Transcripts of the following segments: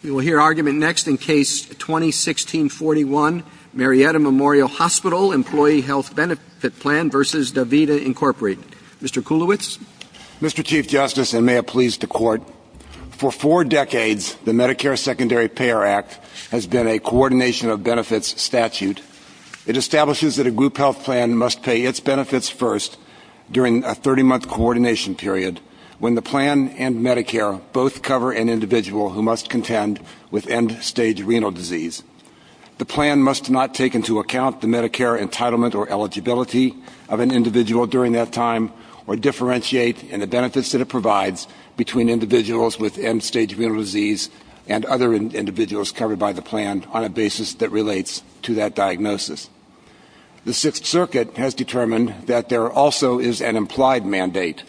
You will hear argument next in Case 2016-41, Marietta Memorial Hospital Employee Health Benefit Plan v. Davita Inc. Mr. Kulowitz. Mr. Chief Justice, and may it please the Court, for four decades the Medicare Secondary Payer Act has been a coordination of benefits statute. It establishes that a group health plan must pay its benefits first during a 30-month coordination period when the plan and Medicare both cover an individual who must contend with end-stage renal disease. The plan must not take into account the Medicare entitlement or eligibility of an individual during that time or differentiate in the benefits that it provides between individuals with end-stage renal disease and other individuals covered by the plan on a basis that relates to that diagnosis. The Sixth Circuit has determined that there also is an implied mandate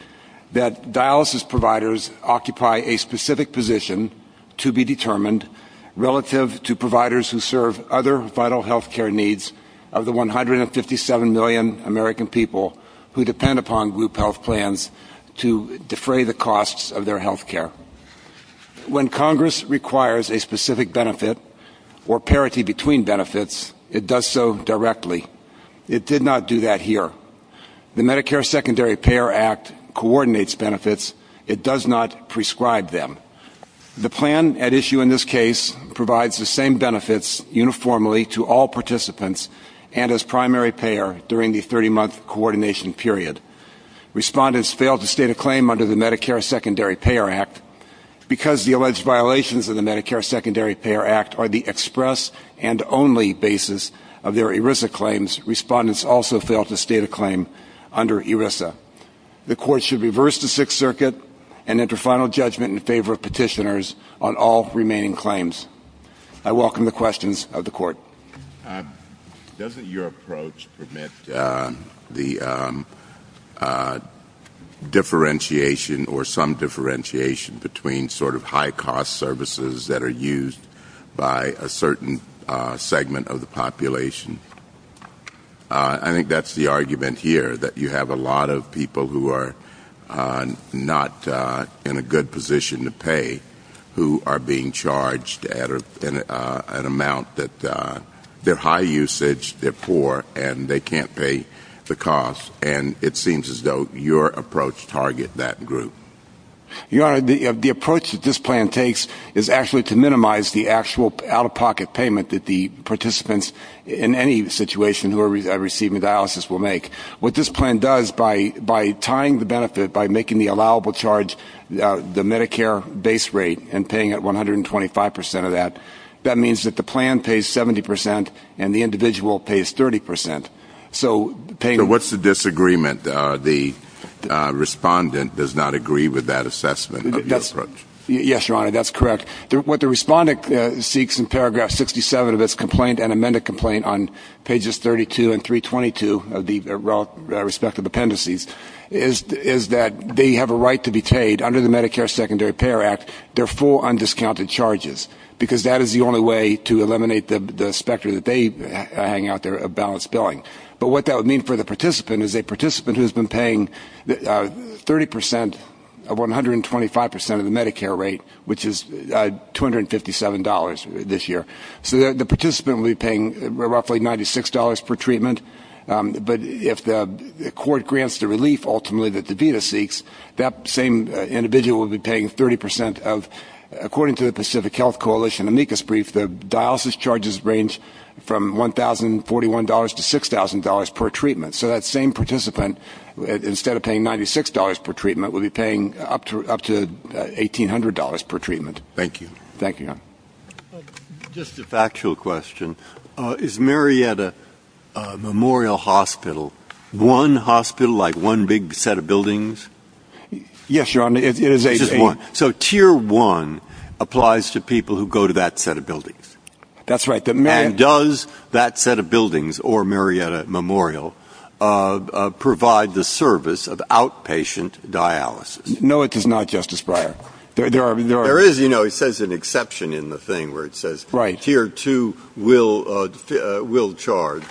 that dialysis providers occupy a specific position to be determined relative to providers who serve other vital health care needs of the 157 million American people who depend upon group health plans to defray the costs of their health care. When Congress requires a specific benefit or parity between benefits, it does so directly. It did not do that here. The Medicare Secondary Payer Act coordinates benefits. It does not prescribe them. The plan at issue in this case provides the same benefits uniformly to all participants and as primary payer during the 30-month coordination period. Respondents fail to state a claim under the Medicare Secondary Payer Act. Because the alleged violations of the Medicare Secondary Payer Act are the express and only basis of their ERISA claims, respondents also fail to state a claim under ERISA. The Court should reverse the Sixth Circuit and enter final judgment in favor of petitioners on all remaining claims. I welcome the questions of the Court. Doesn't your approach permit the differentiation or some differentiation between sort of high-cost services that are used by a certain segment of the population? I think that's the argument here, that you have a lot of people who are not in a good position to pay who are being charged an amount that they're high usage, they're poor, and they can't pay the cost. And it seems as though your approach targets that group. Your Honor, the approach that this plan takes is actually to minimize the actual out-of-pocket payment that the participants in any situation who are receiving dialysis will make. What this plan does, by tying the benefit, by making the allowable charge the Medicare base rate and paying it 125% of that, that means that the plan pays 70% and the individual pays 30%. So what's the disagreement? The respondent does not agree with that assessment of your approach. Yes, Your Honor, that's correct. What the respondent seeks in paragraph 67 of this complaint and amended complaint on pages 32 and 322 of the respective appendices is that they have a right to be paid under the Medicare Secondary Payor Act their full undiscounted charges, because that is the only way to eliminate the specter that they hang out there of balanced billing. But what that would mean for the participant is a participant who's been paying 30% of 125% of the Medicare rate, which is $257 this year. So the participant will be paying roughly $96 per treatment. But if the court grants the relief ultimately that the data seeks, that same individual will be paying 30% of, according to the Pacific Health Coalition amicus brief, the dialysis charges range from $1,041 to $6,000 per treatment. So that same participant, instead of paying $96 per treatment, will be paying up to $1,800 per treatment. Thank you. Thank you. Just a factual question. Is Marietta Memorial Hospital one hospital, like one big set of buildings? Yes, Your Honor. So Tier 1 applies to people who go to that set of buildings. That's right. And does that set of buildings or Marietta Memorial provide the service of outpatient dialysis? No, it does not, Justice Breyer. There is, you know, it says an exception in the thing where it says Tier 2 will charge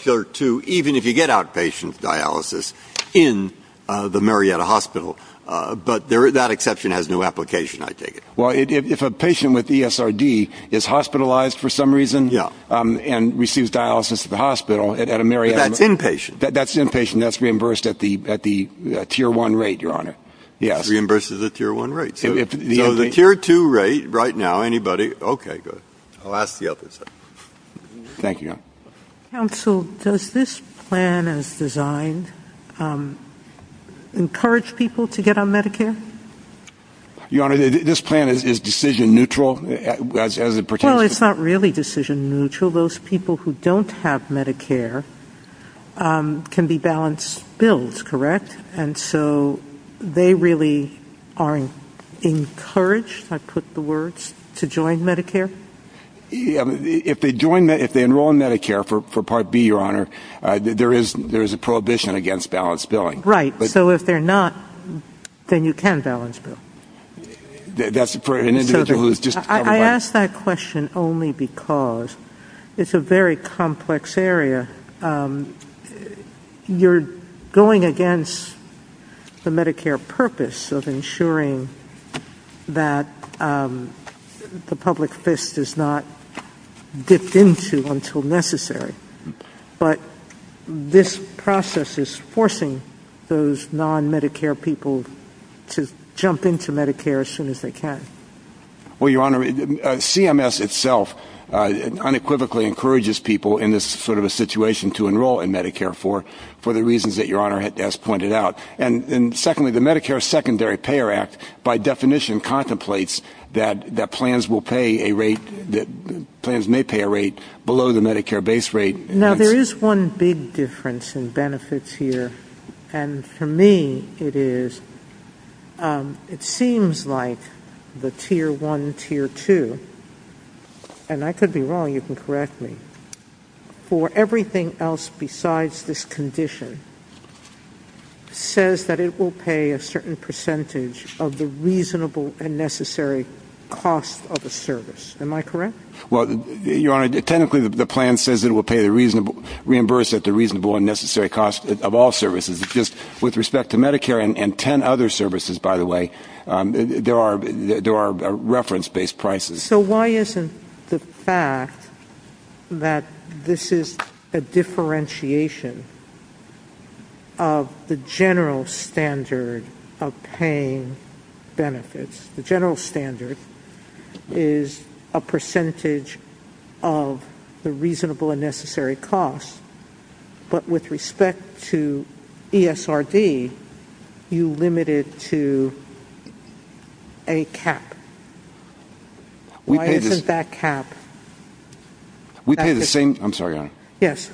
Tier 2, even if you get outpatient dialysis in the Marietta Hospital. But that exception has no application, I take it. Well, if a patient with ESRD is hospitalized for some reason and receives dialysis at the hospital at a Marietta Hospital. But that's inpatient. That's inpatient. That's reimbursed at the Tier 1 rate, Your Honor. Yes. Reimbursed at the Tier 1 rate. So the Tier 2 rate right now, anybody? Okay, good. I'll ask the other side. Thank you. Counsel, does this plan, as designed, encourage people to get on Medicare? Your Honor, this plan is decision neutral as it pertains to. Well, it's not really decision neutral. Those people who don't have Medicare can be balanced bills, correct? And so they really are encouraged, I put the words, to join Medicare? If they enroll in Medicare for Part B, Your Honor, there is a prohibition against balanced billing. Right. So if they're not, then you can balance bill. That's for an individual who's just coming in. I ask that question only because it's a very complex area. You're going against the Medicare purpose of ensuring that the public fist is not dipped into until necessary. But this process is forcing those non-Medicare people to jump into Medicare as soon as they can. Well, Your Honor, CMS itself unequivocally encourages people in this sort of a situation to enroll in Medicare for the reasons that Your Honor has pointed out. And secondly, the Medicare Secondary Payer Act, by definition, contemplates that plans will pay a rate, that plans may pay a rate below the Medicare base rate. Now, there is one big difference in benefits here. And for me, it is, it seems like the Tier 1, Tier 2, and I could be wrong, you can correct me, for everything else besides this condition says that it will pay a certain percentage of the reasonable and necessary cost of a service. Am I correct? Well, Your Honor, technically the plan says it will pay the reasonable, reimburse at the reasonable and necessary cost of all services. It's just with respect to Medicare and 10 other services, by the way, there are reference-based prices. So why isn't the fact that this is a differentiation of the general standard of paying benefits, the general standard is a percentage of the reasonable and necessary cost. But with respect to ESRD, you limit it to a cap. Why isn't that cap? We pay the same, I'm sorry, Your Honor. Yes.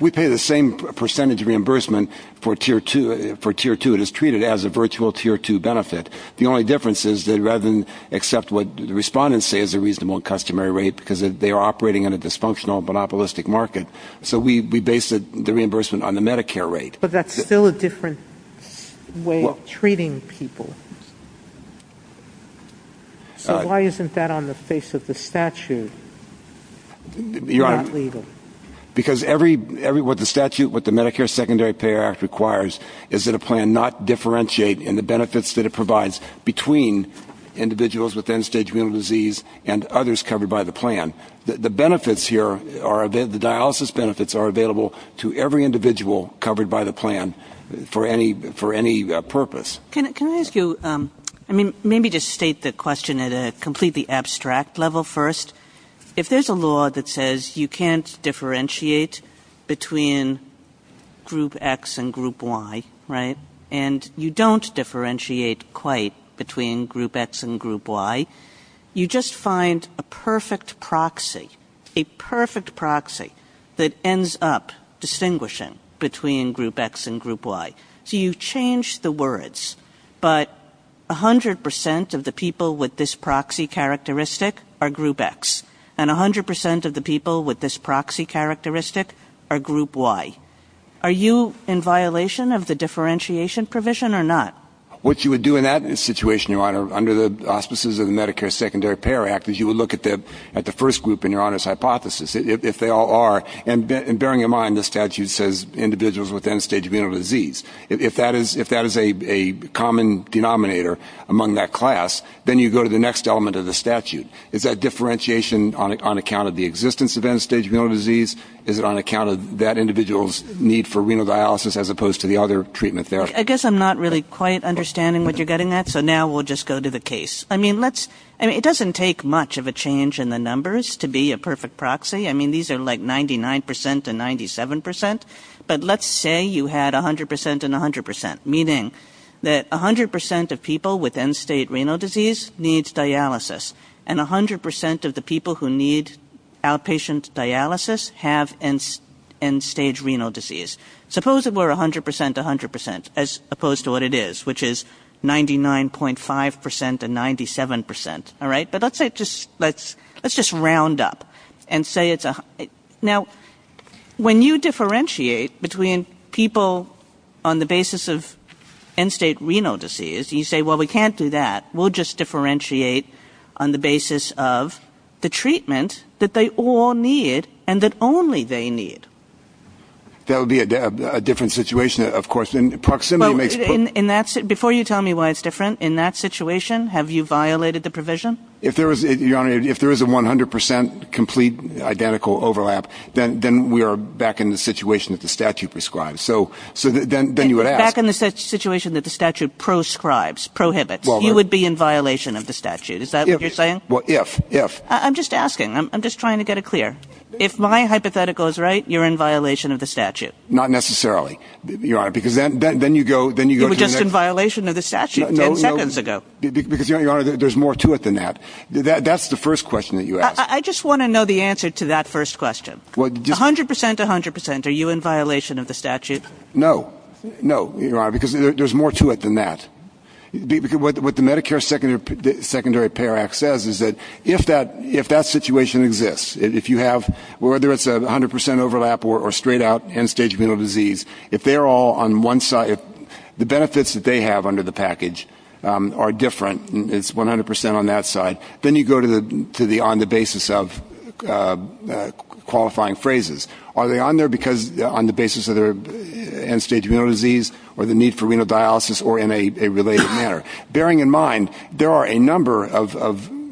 We pay the same percentage reimbursement for Tier 2. It is treated as a virtual Tier 2 benefit. The only difference is that rather than accept what the respondents say is a reasonable and customary rate because they are operating in a dysfunctional, monopolistic market, so we base the reimbursement on the Medicare rate. But that's still a different way of treating people. So why isn't that on the face of the statute? Your Honor, because what the statute, what the Medicare Secondary Payer Act requires is that a plan not differentiate in the benefits that it provides between individuals with end-stage renal disease and others covered by the plan. The benefits here, the dialysis benefits are available to every individual covered by the plan for any purpose. Can I ask you, I mean, maybe just state the question at a completely abstract level first. If there's a law that says you can't differentiate between Group X and Group Y, right, and you don't differentiate quite between Group X and Group Y, you just find a perfect proxy, a perfect proxy that ends up distinguishing between Group X and Group Y. So you change the words, but 100% of the people with this proxy characteristic are Group X, and 100% of the people with this proxy characteristic are Group Y. Are you in violation of the differentiation provision or not? What you would do in that situation, Your Honor, under the auspices of the Medicare Secondary Payer Act, is you would look at the first group in Your Honor's hypothesis, if they all are, and bearing in mind the statute says individuals with end-stage renal disease. If that is a common denominator among that class, then you go to the next element of the statute. Is that differentiation on account of the existence of end-stage renal disease? Is it on account of that individual's need for renal dialysis as opposed to the other treatment there? I guess I'm not really quite understanding what you're getting at, so now we'll just go to the case. I mean, it doesn't take much of a change in the numbers to be a perfect proxy. I mean, these are like 99% and 97%, but let's say you had 100% and 100%, meaning that 100% of people with end-stage renal disease need dialysis, and 100% of the people who need outpatient dialysis have end-stage renal disease. Suppose it were 100% to 100% as opposed to what it is, which is 99.5% and 97%. Let's just round up and say it's 100%. Now, when you differentiate between people on the basis of end-stage renal disease, you say, well, we can't do that. We'll just differentiate on the basis of the treatment that they all need and that only they need. That would be a different situation, of course. Before you tell me why it's different, in that situation, have you violated the provision? Your Honor, if there is a 100% complete identical overlap, then we are back in the situation that the statute prescribes. Back in the situation that the statute proscribes, prohibits. You would be in violation of the statute. Is that what you're saying? Well, if. I'm just asking. I'm just trying to get it clear. If my hypothetical is right, you're in violation of the statute. Not necessarily, Your Honor. You were just in violation of the statute 10 seconds ago. Because, Your Honor, there's more to it than that. That's the first question that you asked. I just want to know the answer to that first question. 100%, 100%, are you in violation of the statute? No. No, Your Honor, because there's more to it than that. What the Medicare Secondary Payer Act says is that if that situation exists, if you have, whether it's a 100% overlap or straight out end-stage renal disease, if they're all on one side, if the benefits that they have under the package are different, it's 100% on that side, then you go to the on the basis of qualifying phrases. Are they on there because on the basis of their end-stage renal disease or the need for renal dialysis or in a related manner? Bearing in mind, there are a number of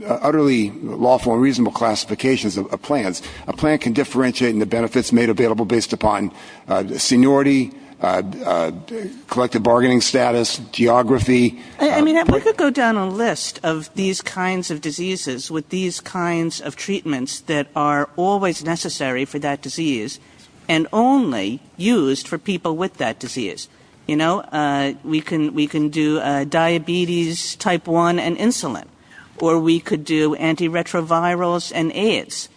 utterly lawful and reasonable classifications of plans. A plan can differentiate in the benefits made available based upon seniority, collective bargaining status, geography. I mean, we could go down a list of these kinds of diseases with these kinds of treatments that are always necessary for that disease and only used for people with that disease. You know, we can do diabetes type 1 and insulin, or we could do antiretrovirals and AIDS.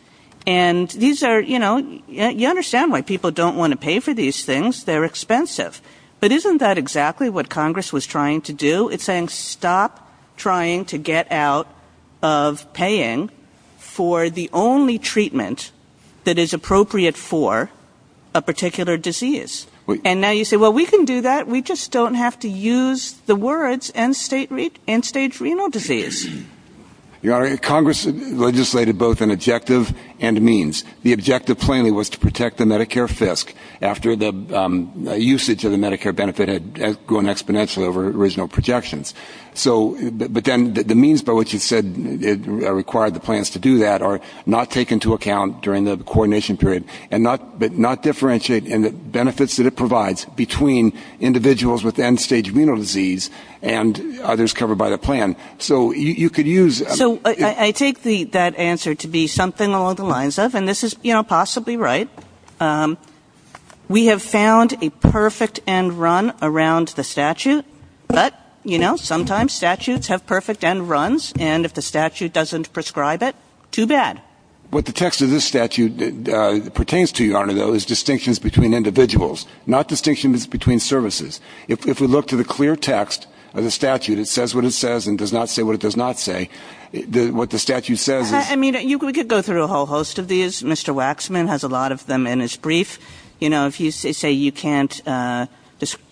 And these are, you know, you understand why people don't want to pay for these things. They're expensive. But isn't that exactly what Congress was trying to do? It's saying stop trying to get out of paying for the only treatment that is appropriate for a particular disease. And now you say, well, we can do that. We just don't have to use the words end-stage renal disease. You know, Congress legislated both an objective and a means. The objective plan was to protect the Medicare FISC after the usage of the Medicare benefit had grown exponentially over original projections. But then the means by which you said it required the plans to do that are not taken into account during the coordination period but not differentiate in the benefits that it provides between individuals with end-stage renal disease and others covered by the plan. So you could use- So I take that answer to be something along the lines of, and this is possibly right, we have found a perfect end run around the statute. But, you know, sometimes statutes have perfect end runs, and if the statute doesn't prescribe it, too bad. What the text of this statute pertains to, Arturo, is distinctions between individuals, not distinctions between services. If we look to the clear text of the statute, it says what it says and does not say what it does not say. What the statute says is- I mean, we could go through a whole host of these. Mr. Waxman has a lot of them in his brief. You know, if you say you can't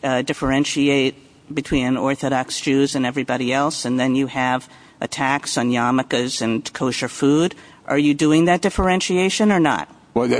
differentiate between Orthodox Jews and everybody else and then you have attacks on yarmulkes and kosher food, are you doing that differentiation or not? Well,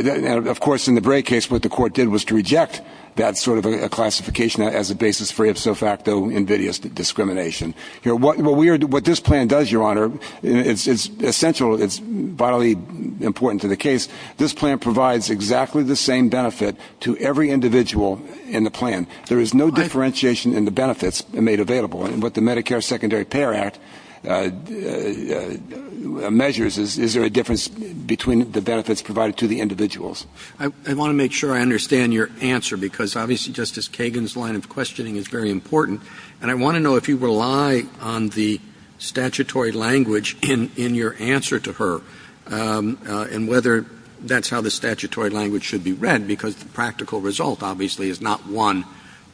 of course, in the Bray case, what the court did was to reject that sort of a classification as a basis for a de facto invidious discrimination. What this plan does, Your Honor, it's essential, it's vitally important to the case. This plan provides exactly the same benefit to every individual in the plan. There is no differentiation in the benefits made available. What the Medicare Secondary Payer Act measures is, is there a difference between the benefits provided to the individuals? I want to make sure I understand your answer because, obviously, Justice Kagan's line of questioning is very important, and I want to know if you rely on the statutory language in your answer to her and whether that's how the statutory language should be read because the practical result, obviously, is not one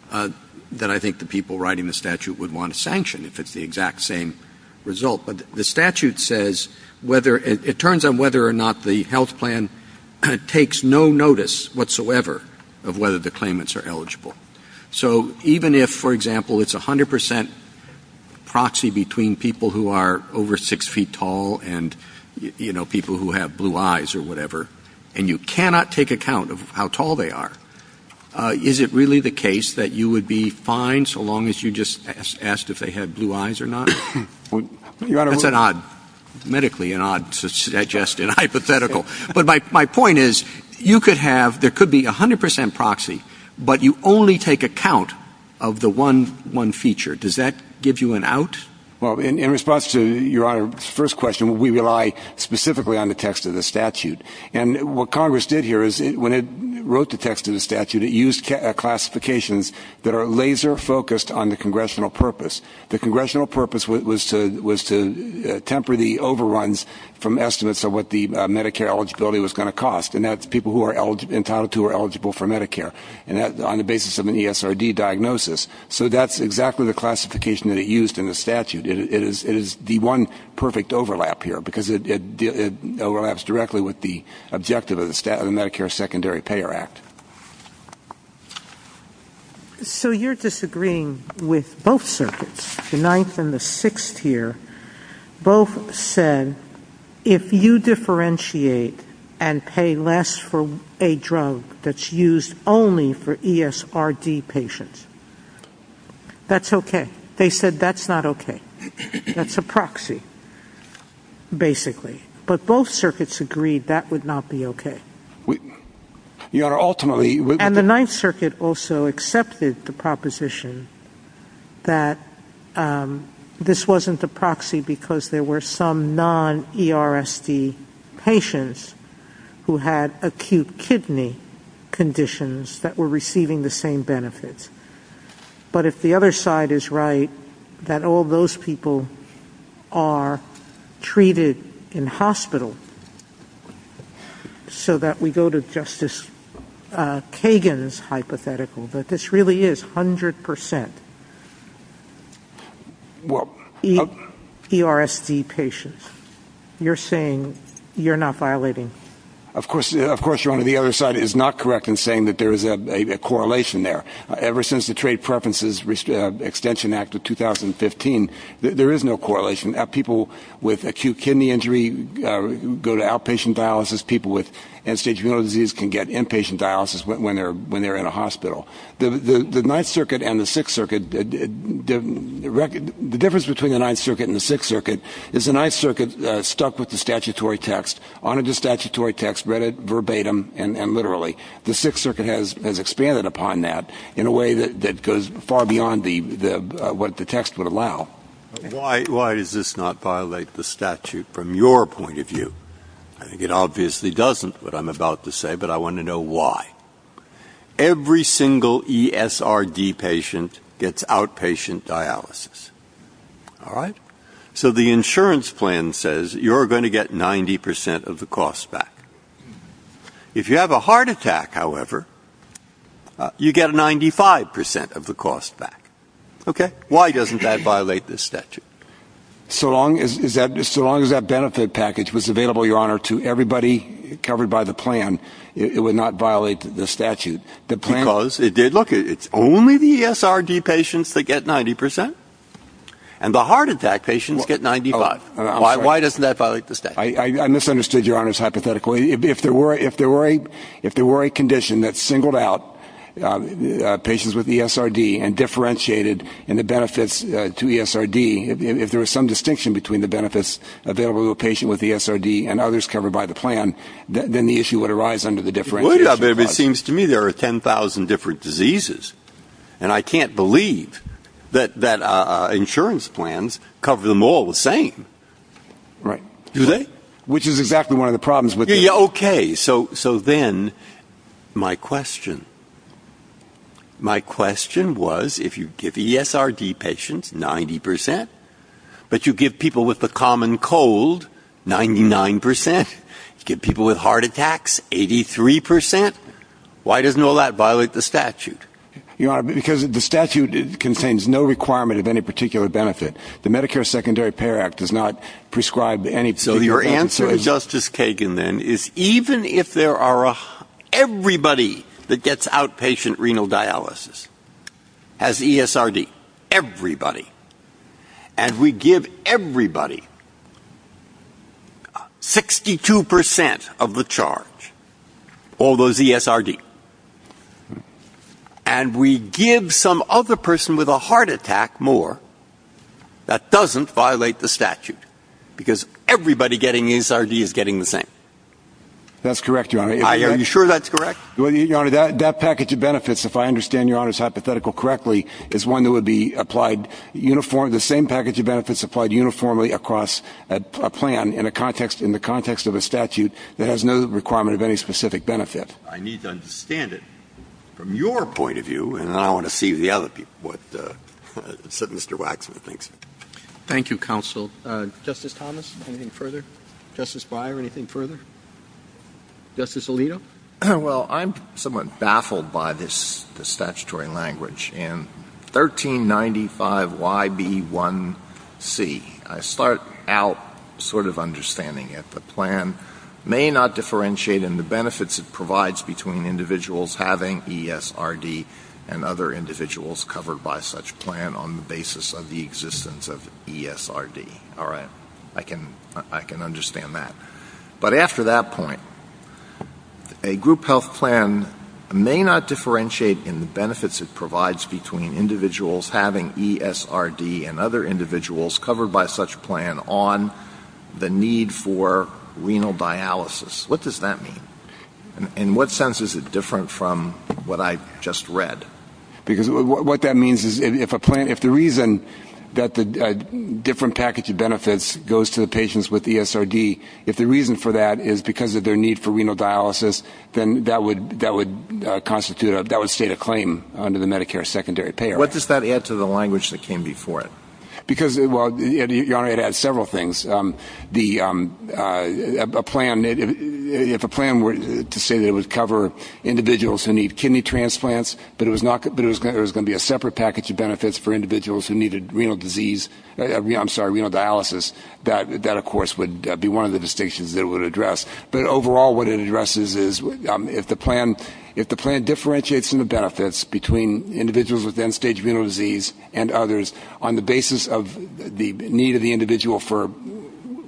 that I think the people writing the statute would want to sanction if it's the exact same result. But the statute says whether, it turns out whether or not the health plan takes no notice whatsoever of whether the claimants are eligible. So even if, for example, it's 100% proxy between people who are over 6 feet tall and, you know, people who have blue eyes or whatever, and you cannot take account of how tall they are, is it really the case that you would be fine so long as you just asked if they had blue eyes or not? That's an odd, medically an odd suggestion, hypothetical. But my point is you could have, there could be 100% proxy, but you only take account of the one feature. Does that give you an out? Well, in response to Your Honor's first question, we rely specifically on the text of the statute. And what Congress did here is when it wrote the text of the statute, it used classifications that are laser focused on the congressional purpose. The congressional purpose was to temper the overruns from estimates of what the Medicare eligibility was going to cost, and that's people who are entitled to or eligible for Medicare on the basis of an ESRD diagnosis. So that's exactly the classification that it used in the statute. It is the one perfect overlap here because it overlaps directly with the objective of the Medicare Secondary Payer Act. So you're disagreeing with both circuits, the ninth and the sixth here. Both said if you differentiate and pay less for a drug that's used only for ESRD patients, that's okay. They said that's not okay. That's a proxy, basically. But both circuits agreed that would not be okay. And the ninth circuit also accepted the proposition that this wasn't a proxy because there were some non-ERSD patients who had acute kidney conditions that were receiving the same benefits. But if the other side is right, that all those people are treated in hospital, so that we go to Justice Kagan's hypothetical, that this really is 100% ERSD patients, you're saying you're not violating? Of course, Your Honor, the other side is not correct in saying that there is a correlation there. Ever since the Trade Preferences Extension Act of 2015, there is no correlation. People with acute kidney injury go to outpatient dialysis. People with end-stage renal disease can get inpatient dialysis when they're in a hospital. The ninth circuit and the sixth circuit, the difference between the ninth circuit and the sixth circuit is the ninth circuit stuck with the statutory text, honored the statutory text, read it verbatim and literally. The sixth circuit has expanded upon that in a way that goes far beyond what the text would allow. Why does this not violate the statute from your point of view? I think it obviously doesn't, what I'm about to say, but I want to know why. Every single ESRD patient gets outpatient dialysis. So the insurance plan says you're going to get 90% of the cost back. If you have a heart attack, however, you get 95% of the cost back. Why doesn't that violate the statute? So long as that benefit package was available, Your Honor, to everybody covered by the plan, it would not violate the statute. Look, it's only the ESRD patients that get 90%, and the heart attack patients get 95%. Why doesn't that violate the statute? I misunderstood, Your Honor, hypothetically. If there were a condition that singled out patients with ESRD and differentiated in the benefits to ESRD, if there was some distinction between the benefits available to a patient with ESRD and others covered by the plan, then the issue would arise under the differentiation. It seems to me there are 10,000 different diseases, and I can't believe that insurance plans cover them all the same. Right. Do they? Which is exactly one of the problems with it. Okay. So then my question was, if you give ESRD patients 90%, but you give people with the common cold 99%, you give people with heart attacks 83%, why doesn't all that violate the statute? Your Honor, because the statute contains no requirement of any particular benefit. The Medicare Secondary Payer Act does not prescribe any particular compensation. So your answer, Justice Kagan, then, is even if there are everybody that gets outpatient renal dialysis has ESRD, everybody, and we give everybody 62% of the charge, all those ESRD, and we give some other person with a heart attack more, that doesn't violate the statute, because everybody getting ESRD is getting the same. That's correct, Your Honor. Are you sure that's correct? Your Honor, that package of benefits, if I understand Your Honor's hypothetical correctly, is one that would be applied uniformly, the same package of benefits applied uniformly across a plan in the context of a statute that has no requirement of any specific benefit. I need to understand it from your point of view, and then I want to see what Mr. Waxman thinks. Thank you, counsel. Justice Thomas, anything further? Justice Beyer, anything further? Justice Alito? Well, I'm somewhat baffled by this statutory language. In 1395YB1C, I start out sort of understanding it. The plan may not differentiate in the benefits it provides between individuals having ESRD and other individuals covered by such plan on the basis of the existence of ESRD. All right. I can understand that. But after that point, a group health plan may not differentiate in the benefits it provides between individuals having ESRD and other individuals covered by such plan on the need for renal dialysis. What does that mean? In what sense is it different from what I just read? Because what that means is if the reason that the different package of benefits goes to the patients with ESRD, if the reason for that is because of their need for renal dialysis, then that would constitute a claim under the Medicare secondary payer. What does that add to the language that came before it? Your Honor, it adds several things. If a plan were to say that it would cover individuals who need kidney transplants but there was going to be a separate package of benefits for individuals who needed renal dialysis, that, of course, would be one of the distinctions it would address. But overall what it addresses is if the plan differentiates in the benefits between individuals with end-stage renal disease and others on the basis of the need of the individual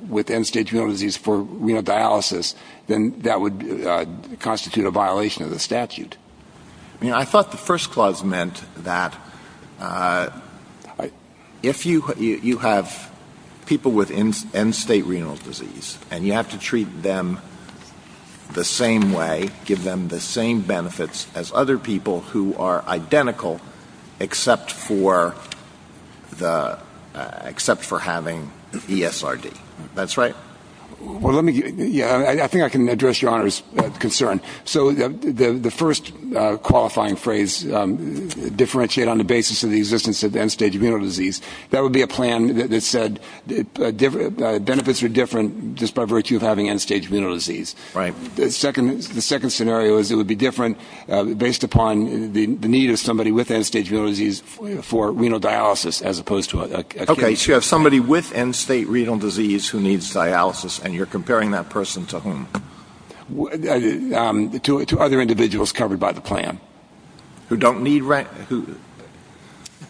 with end-stage renal disease for renal dialysis, then that would constitute a violation of the statute. I thought the first clause meant that if you have people with end-state renal disease and you have to treat them the same way, give them the same benefits as other people who are identical except for having ESRD. That's right. I think I can address Your Honor's concern. So the first qualifying phrase, differentiate on the basis of the existence of end-stage renal disease, that would be a plan that said benefits are different just by virtue of having end-stage renal disease. Right. The second scenario is it would be different based upon the need of somebody with end-stage renal disease for renal dialysis as opposed to a case. Okay, so you have somebody with end-state renal disease who needs dialysis and you're comparing that person to whom? To other individuals covered by the plan. Who don't need renal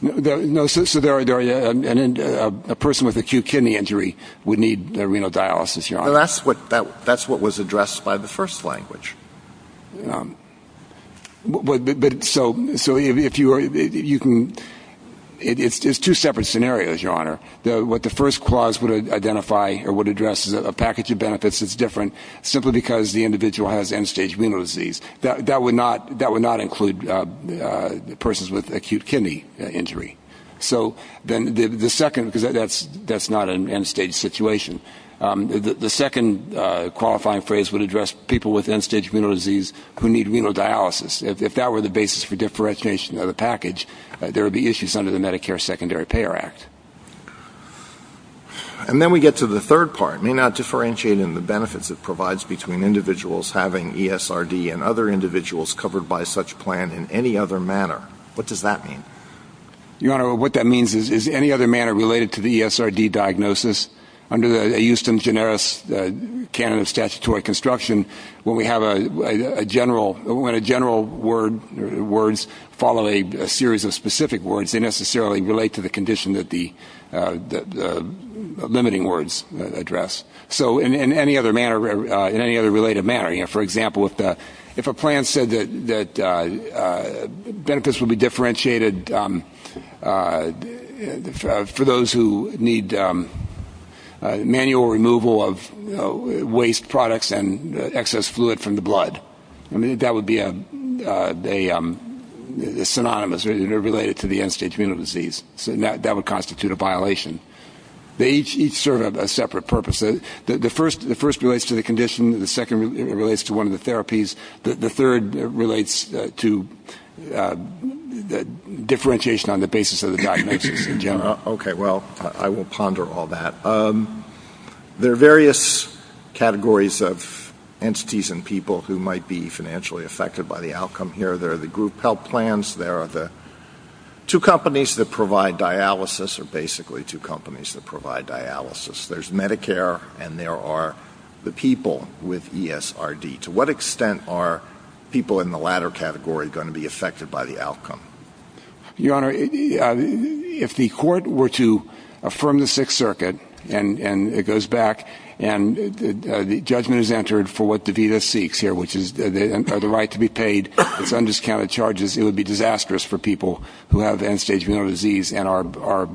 dialysis? No, so a person with acute kidney injury would need renal dialysis, Your Honor. That's what was addressed by the first language. It's two separate scenarios, Your Honor. What the first clause would identify or would address is a package of benefits that's different simply because the individual has end-stage renal disease. That would not include persons with acute kidney injury. So then the second, because that's not an end-stage situation, the second qualifying phrase would address people with end-stage renal disease who need renal dialysis. If that were the basis for differentiation of the package, there would be issues under the Medicare Secondary Payer Act. And then we get to the third part, may not differentiate in the benefits it provides between individuals having ESRD and other individuals covered by such plan in any other manner. What does that mean? Your Honor, what that means is any other manner related to the ESRD diagnosis under the Houston Generis Canon of Statutory Construction, where we have a general words follow a series of specific words. They don't necessarily relate to the condition that the limiting words address. So in any other manner, in any other related manner, for example, if a plan said that benefits will be differentiated for those who need manual removal of waste products and excess fluid from the blood, that would be synonymous. They're related to the end-stage renal disease. That would constitute a violation. They each serve a separate purpose. The first relates to the condition. The second relates to one of the therapies. The third relates to differentiation on the basis of the diagnosis in general. Okay. Well, I won't ponder all that. There are various categories of entities and people who might be financially affected by the outcome here. There are the group health plans. There are the two companies that provide dialysis, or basically two companies that provide dialysis. There's Medicare, and there are the people with ESRD. To what extent are people in the latter category going to be affected by the outcome? Your Honor, if the court were to affirm the Sixth Circuit, and it goes back, and the judgment is entered for what the VEDA seeks here, which is the right to be paid for undiscounted charges, it would be disastrous for people who have end-stage renal disease and are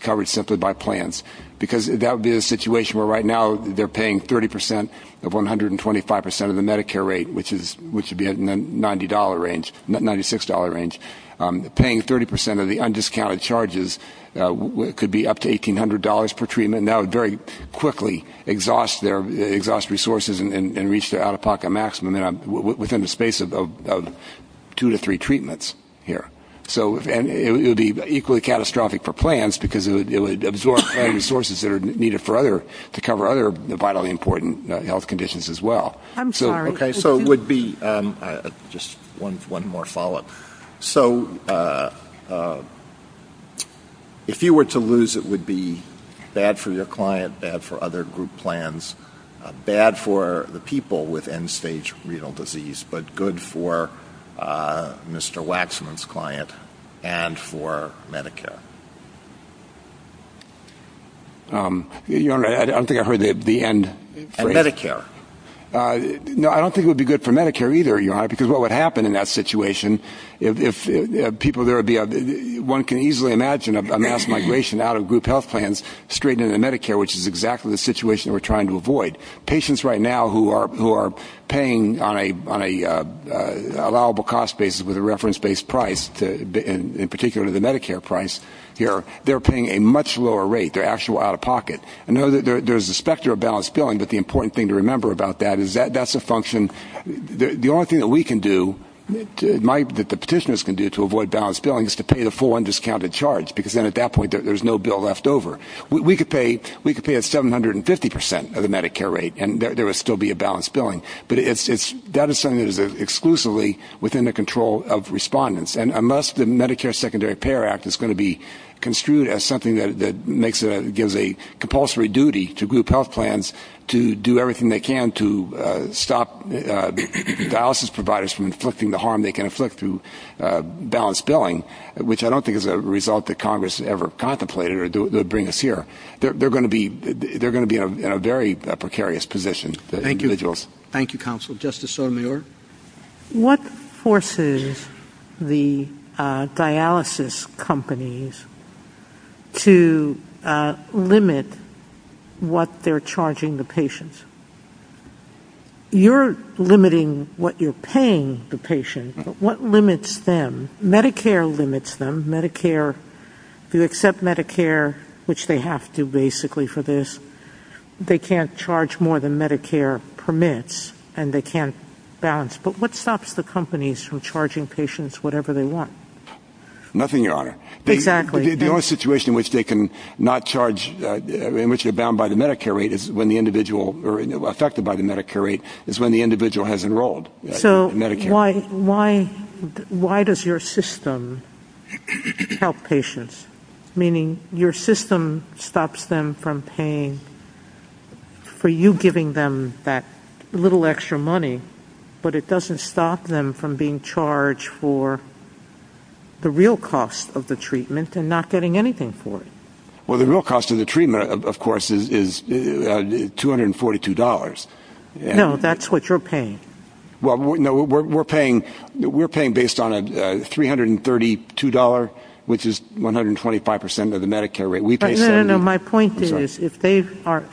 covered simply by plans, because that would be a situation where right now they're paying 30% of 125% of the Medicare rate, which would be in the $90 range, $96 range. Paying 30% of the undiscounted charges could be up to $1,800 per treatment, and now very quickly exhaust resources and reach their out-of-pocket maximum within the space of two to three treatments here. And it would be equally catastrophic for plans, because it would absorb resources that are needed to cover other vitally important health conditions as well. I'm sorry. Okay, so it would be just one more follow-up. So if you were to lose, it would be bad for your client, bad for other group plans, bad for the people with end-stage renal disease, but good for Mr. Waxman's client and for Medicare. Your Honor, I don't think I heard the end phrase. And Medicare. No, I don't think it would be good for Medicare either, Your Honor, because what would happen in that situation, one can easily imagine a mass migration out of group health plans straight into Medicare, which is exactly the situation we're trying to avoid. Patients right now who are paying on an allowable cost basis with a reference-based price, in particular the Medicare price here, they're paying a much lower rate. They're actually out-of-pocket. I know that there's a specter of balanced billing, but the important thing to remember about that is that's a function. The only thing that we can do, that the petitioners can do to avoid balanced billing, is to pay the full undiscounted charge because then at that point there's no bill left over. We could pay a 750% of the Medicare rate and there would still be a balanced billing. But that is something that is exclusively within the control of respondents. And unless the Medicare Secondary Payer Act is going to be construed as something that gives a compulsory duty to group health plans to do everything they can to stop dialysis providers from inflicting the harm they can inflict through balanced billing, which I don't think is a result that Congress has ever contemplated or would bring us here, they're going to be in a very precarious position, the individuals. Thank you, counsel. Justice Sotomayor? Justice Sotomayor, what forces the dialysis companies to limit what they're charging the patients? You're limiting what you're paying the patients, but what limits them? Medicare limits them. You accept Medicare, which they have to basically for this. They can't charge more than Medicare permits and they can't balance. But what stops the companies from charging patients whatever they want? Nothing, Your Honor. Exactly. The only situation in which they can not charge, in which they're bound by the Medicare rate is when the individual, or affected by the Medicare rate is when the individual has enrolled in Medicare. Why does your system help patients, meaning your system stops them from paying for you giving them that little extra money, but it doesn't stop them from being charged for the real cost of the treatment and not getting anything for it? Well, the real cost of the treatment, of course, is $242. No, that's what you're paying. Well, no, we're paying based on $332, which is 125% of the Medicare rate. No, no, no. My point is if they charge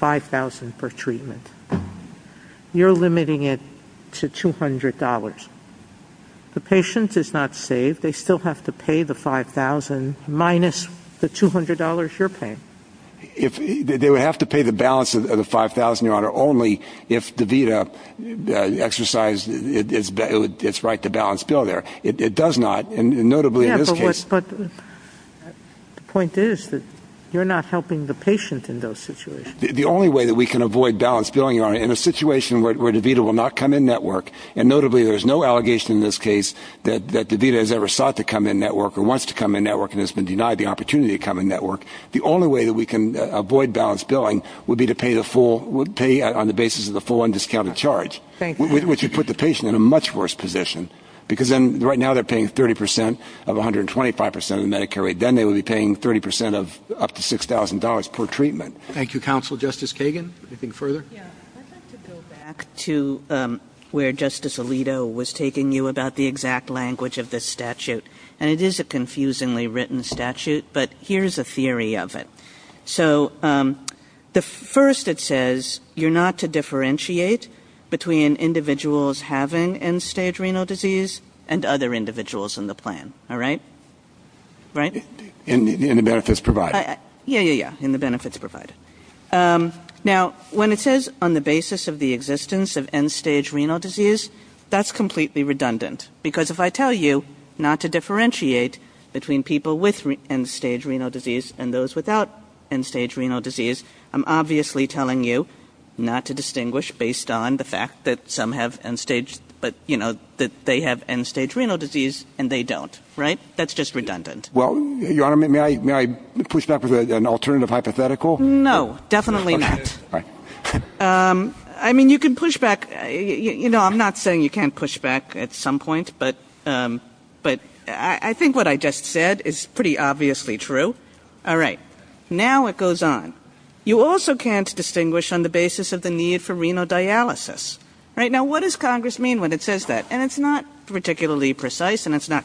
$5,000 for treatment, you're limiting it to $200. The patient is not saved. They still have to pay the $5,000 minus the $200 you're paying. They would have to pay the balance of the $5,000, Your Honor, only if DaVita exercised its right to balance bill there. It does not, and notably in this case. Yes, but the point is that you're not helping the patient in those situations. The only way that we can avoid balance billing, Your Honor, in a situation where DaVita will not come in network, and notably there's no allegation in this case that DaVita has ever sought to come in network or wants to come in network and has been denied the opportunity to come in network, the only way that we can avoid balance billing would be to pay on the basis of the full undiscounted charge, which would put the patient in a much worse position because right now they're paying 30% of 125% of the Medicare rate. Then they would be paying 30% of up to $6,000 per treatment. Thank you, Counselor. Justice Kagan, anything further? Yes. I'd like to go back to where Justice Alito was taking you about the exact language of this statute, and it is a confusingly written statute, but here's a theory of it. So first it says you're not to differentiate between individuals having end-stage renal disease and other individuals in the plan. All right? Right? In the benefits provided. Yes, yes, yes, in the benefits provided. Now, when it says on the basis of the existence of end-stage renal disease, that's completely redundant because if I tell you not to differentiate between people with end-stage renal disease and those without end-stage renal disease, I'm obviously telling you not to distinguish based on the fact that they have end-stage renal disease and they don't. Right? That's just redundant. Well, Your Honor, may I push back with an alternative hypothetical? No, definitely not. All right. I mean, you can push back. You know, I'm not saying you can't push back at some point, but I think what I just said is pretty obviously true. All right. Now it goes on. You also can't distinguish on the basis of the need for renal dialysis. Right? Now, what does Congress mean when it says that? And it's not particularly precise and it's not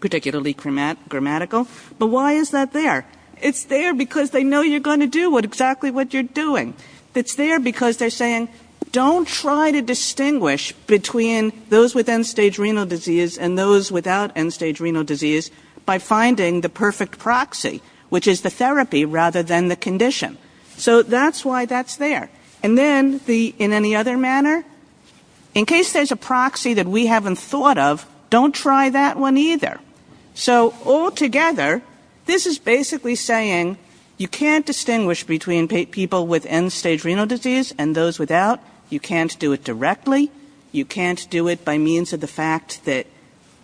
particularly grammatical, but why is that there? It's there because they know you're going to do exactly what you're doing. It's there because they're saying, don't try to distinguish between those with end-stage renal disease and those without end-stage renal disease by finding the perfect proxy, which is the therapy rather than the condition. So that's why that's there. And then, in any other manner, in case there's a proxy that we haven't thought of, don't try that one either. So altogether, this is basically saying you can't distinguish between people with end-stage renal disease and those without. You can't do it directly. You can't do it by means of the fact that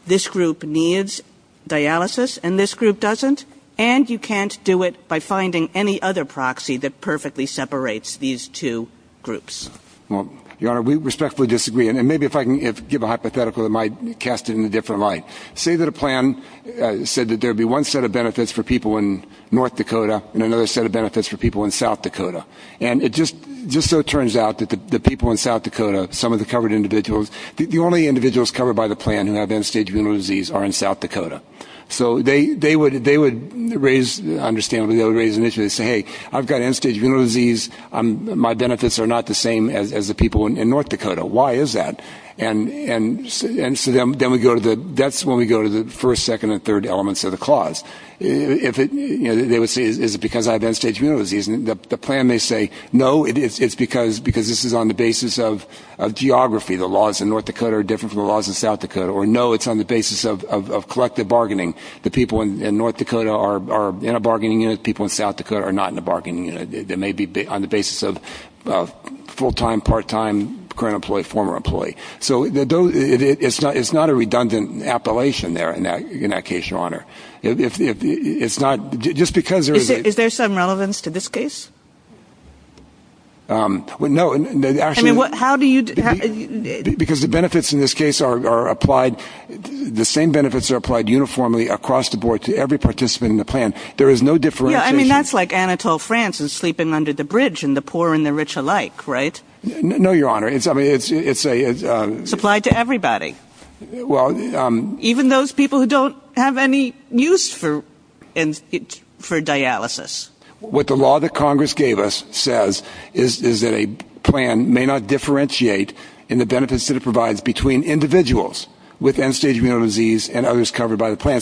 this group needs dialysis and this group doesn't. And you can't do it by finding any other proxy that perfectly separates these two groups. Well, Your Honor, we respectfully disagree. And maybe if I can give a hypothetical, it might cast it in a different light. Say that a plan said that there would be one set of benefits for people in North Dakota and another set of benefits for people in South Dakota. And it just so turns out that the people in South Dakota, some of the covered individuals, the only individuals covered by the plan who have end-stage renal disease are in South Dakota. So they would raise, understandably, they would raise an issue and say, hey, I've got end-stage renal disease. My benefits are not the same as the people in North Dakota. Why is that? And so that's when we go to the first, second, and third elements of the clause. Is it because I have end-stage renal disease? The plan may say, no, it's because this is on the basis of geography. The laws in North Dakota are different from the laws in South Dakota. Or, no, it's on the basis of collective bargaining. The people in North Dakota are in a bargaining unit. The people in South Dakota are not in a bargaining unit. It may be on the basis of full-time, part-time current employee, former employee. So it's not a redundant appellation there in that case, Your Honor. It's not just because there is a – Is there some relevance to this case? No, actually – I mean, how do you – Because the benefits in this case are applied. The same benefits are applied uniformly across the board to every participant in the plan. There is no differentiation. I mean, that's like Anatole France in Sleeping Under the Bridge and the poor and the rich alike, right? No, Your Honor. It's a – It's applied to everybody. Well – Even those people who don't have any use for dialysis. What the law that Congress gave us says is that a plan may not differentiate in the benefits that it provides between individuals with end-stage renal disease and others covered by the plan.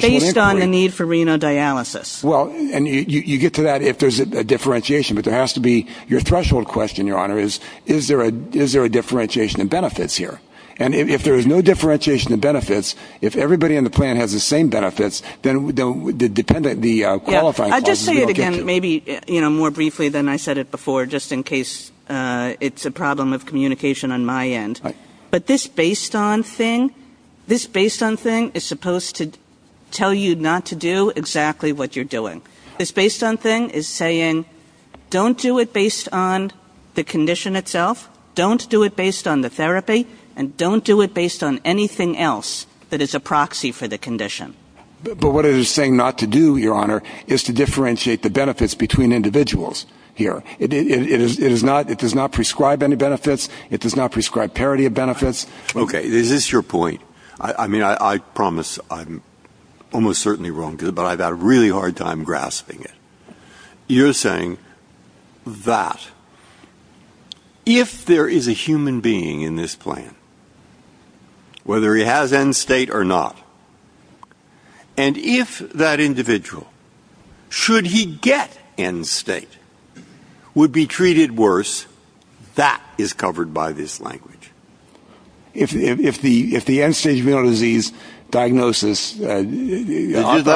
Based on the need for renal dialysis. Well, and you get to that if there's a differentiation, but there has to be – your threshold question, Your Honor, is, is there a differentiation in benefits here? And if there is no differentiation in benefits, if everybody in the plan has the same benefits, then the qualifying process – I'll just say it again, maybe more briefly than I said it before, just in case it's a problem of communication on my end. But this based-on thing, this based-on thing is supposed to tell you not to do exactly what you're doing. This based-on thing is saying don't do it based on the condition itself, don't do it based on the therapy, and don't do it based on anything else that is a proxy for the condition. But what it is saying not to do, Your Honor, is to differentiate the benefits between individuals here. It is not – it does not prescribe any benefits. It does not prescribe parity of benefits. Okay, is this your point? I mean, I promise I'm almost certainly wrong, but I've had a really hard time grasping it. You're saying that if there is a human being in this plan, whether he has end state or not, and if that individual, should he get end state, would be treated worse, that is covered by this language. If the end-stage venial disease diagnosis – Let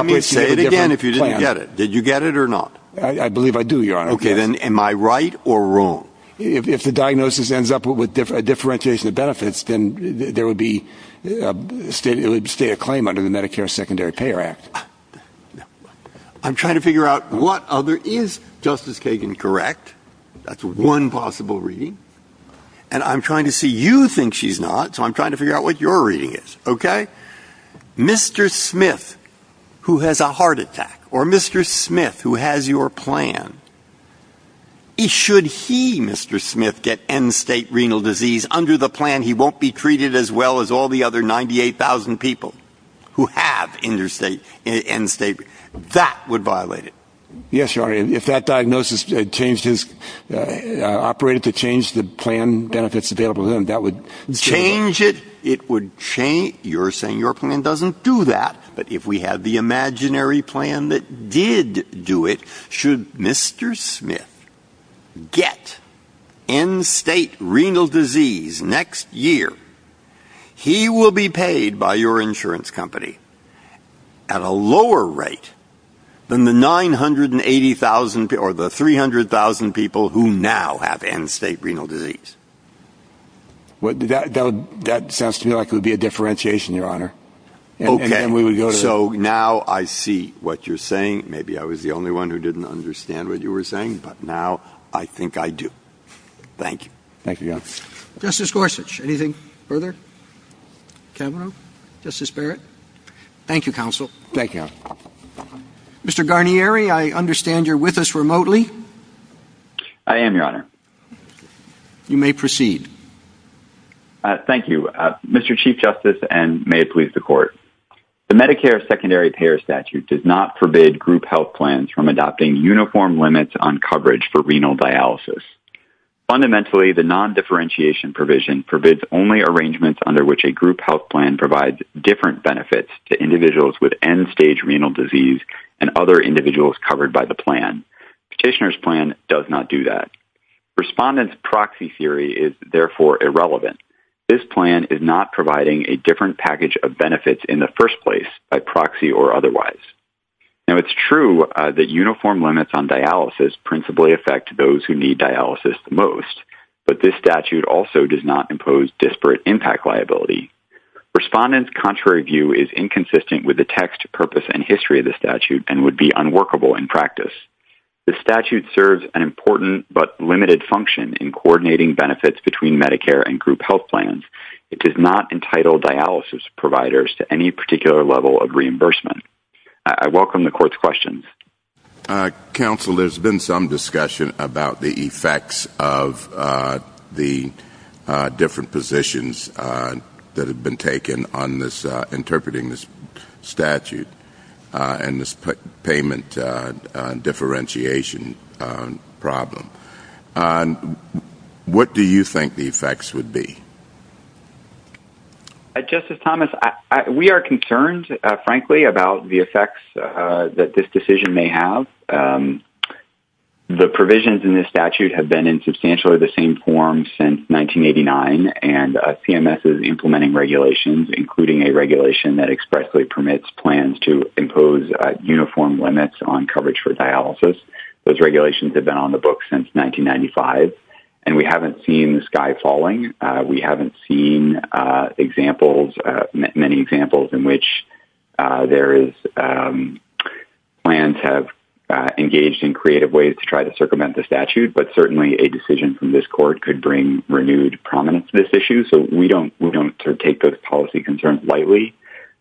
me say it again if you didn't get it. Did you get it or not? I believe I do, Your Honor. Okay, then am I right or wrong? If the diagnosis ends up with differentiation of benefits, then there would be – it would stay a claim under the Medicare Secondary Payer Act. I'm trying to figure out what other – is Justice Kagan correct? That's one possible reading. And I'm trying to see – you think she's not, so I'm trying to figure out what your reading is, okay? Mr. Smith, who has a heart attack, or Mr. Smith, who has your plan, should he, Mr. Smith, get end state renal disease under the plan, he won't be treated as well as all the other 98,000 people who have end state. That would violate it. Yes, Your Honor. If that diagnosis changed his – operated to change the plan benefits available to him, that would – Change it? It would change – you're saying your plan doesn't do that, but if we had the imaginary plan that did do it, should Mr. Smith get end state renal disease next year, he will be paid by your insurance company at a lower rate than the 980,000 – or the 300,000 people who now have end state renal disease. That sounds to me like it would be a differentiation, Your Honor. Okay, so now I see what you're saying. Maybe I was the only one who didn't understand what you were saying, but now I think I do. Thank you. Thank you, Your Honor. Justice Gorsuch, anything further? Kamenow? Justice Barrett? Thank you, counsel. Thank you, Your Honor. Mr. Garnieri, I understand you're with us remotely. I am, Your Honor. You may proceed. Thank you. Mr. Chief Justice, and may it please the Court, the Medicare secondary payer statute does not forbid group health plans from adopting uniform limits on coverage for renal dialysis. Fundamentally, the nondifferentiation provision forbids only arrangements under which a group health plan provides different benefits to individuals with end stage renal disease and other individuals covered by the plan. Petitioner's plan does not do that. Respondent's proxy theory is, therefore, irrelevant. This plan is not providing a different package of benefits in the first place, by proxy or otherwise. Now, it's true that uniform limits on dialysis principally affect those who need dialysis the most, but this statute also does not impose disparate impact liability. Respondent's contrary view is inconsistent with the text, purpose, and history of the statute and would be unworkable in practice. This statute serves an important but limited function in coordinating benefits between Medicare and group health plans. It does not entitle dialysis providers to any particular level of reimbursement. I welcome the Court's questions. Counsel, there's been some discussion about the effects of the different positions that have been taken on interpreting this statute and this payment differentiation problem. What do you think the effects would be? Justice Thomas, we are concerned, frankly, about the effects that this decision may have. The provisions in this statute have been in substantially the same form since 1989, and CMS is implementing regulations, including a regulation that expressly permits plans to impose uniform limits on coverage for dialysis. Those regulations have been on the books since 1995, and we haven't seen the sky falling. We haven't seen many examples in which plans have engaged in creative ways to try to circumvent the statute, but certainly a decision from this Court could bring renewed prominence to this issue, so we don't take those policy concerns lightly.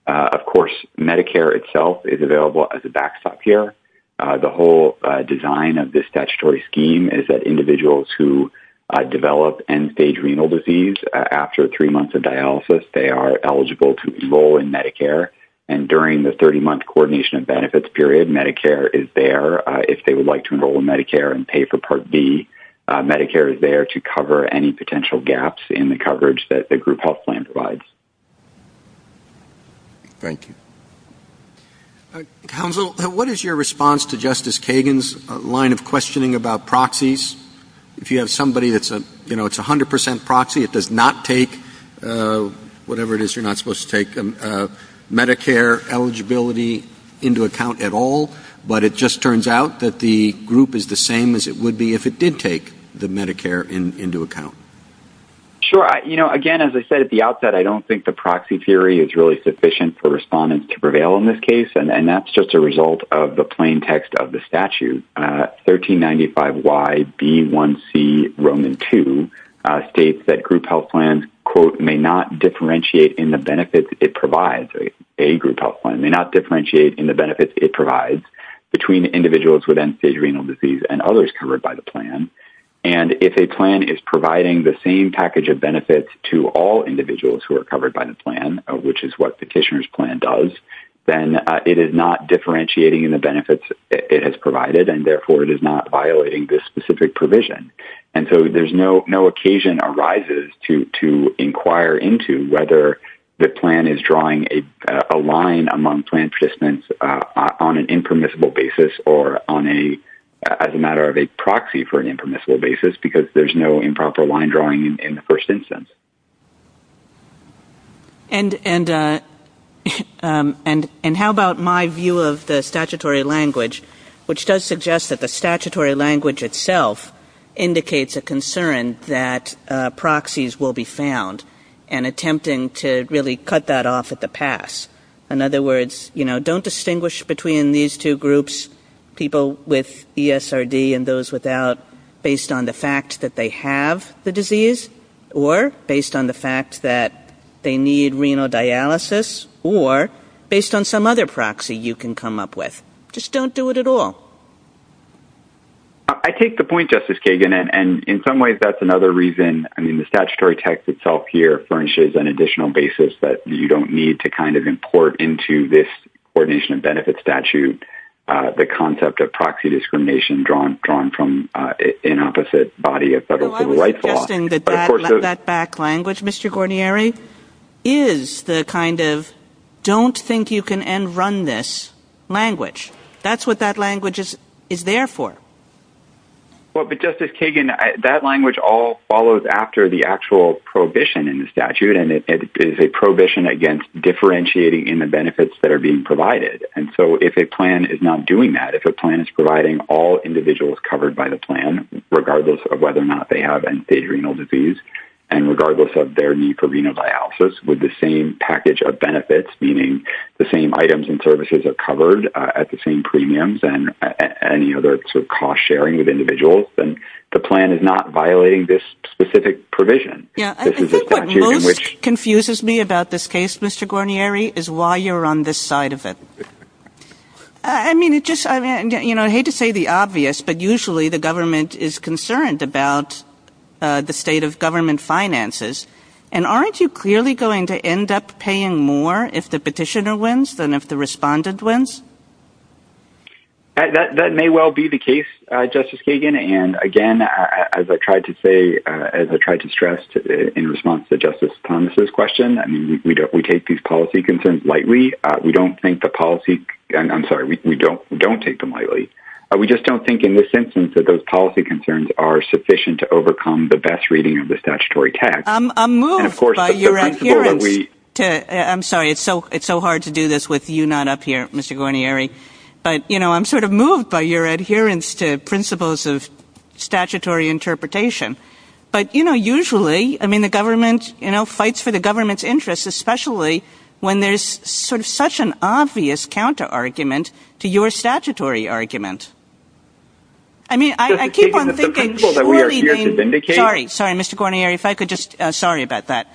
Of course, Medicare itself is available as a backstop care. The whole design of this statutory scheme is that individuals who develop end-stage renal disease, after three months of dialysis, they are eligible to enroll in Medicare, and during the 30-month coordination benefits period, Medicare is there if they would like to enroll in Medicare and pay for Part B. Medicare is there to cover any potential gaps in the coverage that the group health plan provides. Thank you. Counsel, what is your response to Justice Kagan's line of questioning about proxies? If you have somebody that's a 100% proxy, it does not take, whatever it is you're not supposed to take, Medicare eligibility into account at all, but it just turns out that the group is the same as it would be if it did take the Medicare into account. Sure. Again, as I said at the outset, I don't think the proxy theory is really sufficient for respondents to prevail in this case, and that's just a result of the plain text of the statute. Section 1395YB1C Roman 2 states that group health plans, quote, may not differentiate in the benefits it provides, a group health plan, may not differentiate in the benefits it provides between individuals with end-stage renal disease and others covered by the plan. And if a plan is providing the same package of benefits to all individuals who are covered by the plan, which is what the petitioner's plan does, then it is not differentiating in the benefits it has provided, and therefore it is not violating this specific provision. And so there's no occasion arises to inquire into whether the plan is drawing a line among plan participants on an impermissible basis or as a matter of a proxy for an impermissible basis because there's no improper line drawing in the first instance. And how about my view of the statutory language, which does suggest that the statutory language itself indicates a concern that proxies will be found and attempting to really cut that off at the pass. In other words, you know, don't distinguish between these two groups, people with ESRD and those without, based on the fact that they have the disease or based on the fact that they need renal dialysis or based on some other proxy you can come up with. Just don't do it at all. I take the point, Justice Kagan, and in some ways that's another reason. I mean, the statutory text itself here furnishes an additional basis that you don't need to kind of import into this coordination of benefits statute the concept of proxy discrimination drawn from an opposite body of federal civil rights law. It's interesting that that back language, Mr. Gordieri, is the kind of don't think you can end run this language. That's what that language is there for. Well, but Justice Kagan, that language all follows after the actual prohibition in the statute and it is a prohibition against differentiating in the benefits that are being provided. And so if a plan is not doing that, if a plan is providing all individuals covered by the plan, regardless of whether or not they have end-stage renal disease and regardless of their need for renal dialysis with the same package of benefits, meaning the same items and services are covered at the same premiums and any other sort of cost sharing with individuals, then the plan is not violating this specific provision. Yeah, I think what most confuses me about this case, Mr. Gordieri, is why you're on this side of it. I mean, it just, you know, I hate to say the obvious, but usually the government is concerned about the state of government finances. And aren't you clearly going to end up paying more if the petitioner wins than if the respondent wins? That may well be the case, Justice Kagan. And again, as I tried to say, as I tried to stress in response to Justice Thomas' question, I mean, we take these policy concerns lightly. We don't think the policy – I'm sorry, we don't take them lightly. We just don't think in this instance that those policy concerns are sufficient to overcome the best reading of the statutory text. I'm moved by your adherence to – I'm sorry, it's so hard to do this with you not up here, Mr. Gordieri. But, you know, I'm sort of moved by your adherence to principles of statutory interpretation. But, you know, usually, I mean, the government, you know, fights for the government's interests, especially when there's sort of such an obvious counter-argument to your statutory argument. I mean, I keep on thinking – Justice Kagan, it's a principle that we are here to vindicate. Sorry, sorry, Mr. Gordieri, if I could just – sorry about that.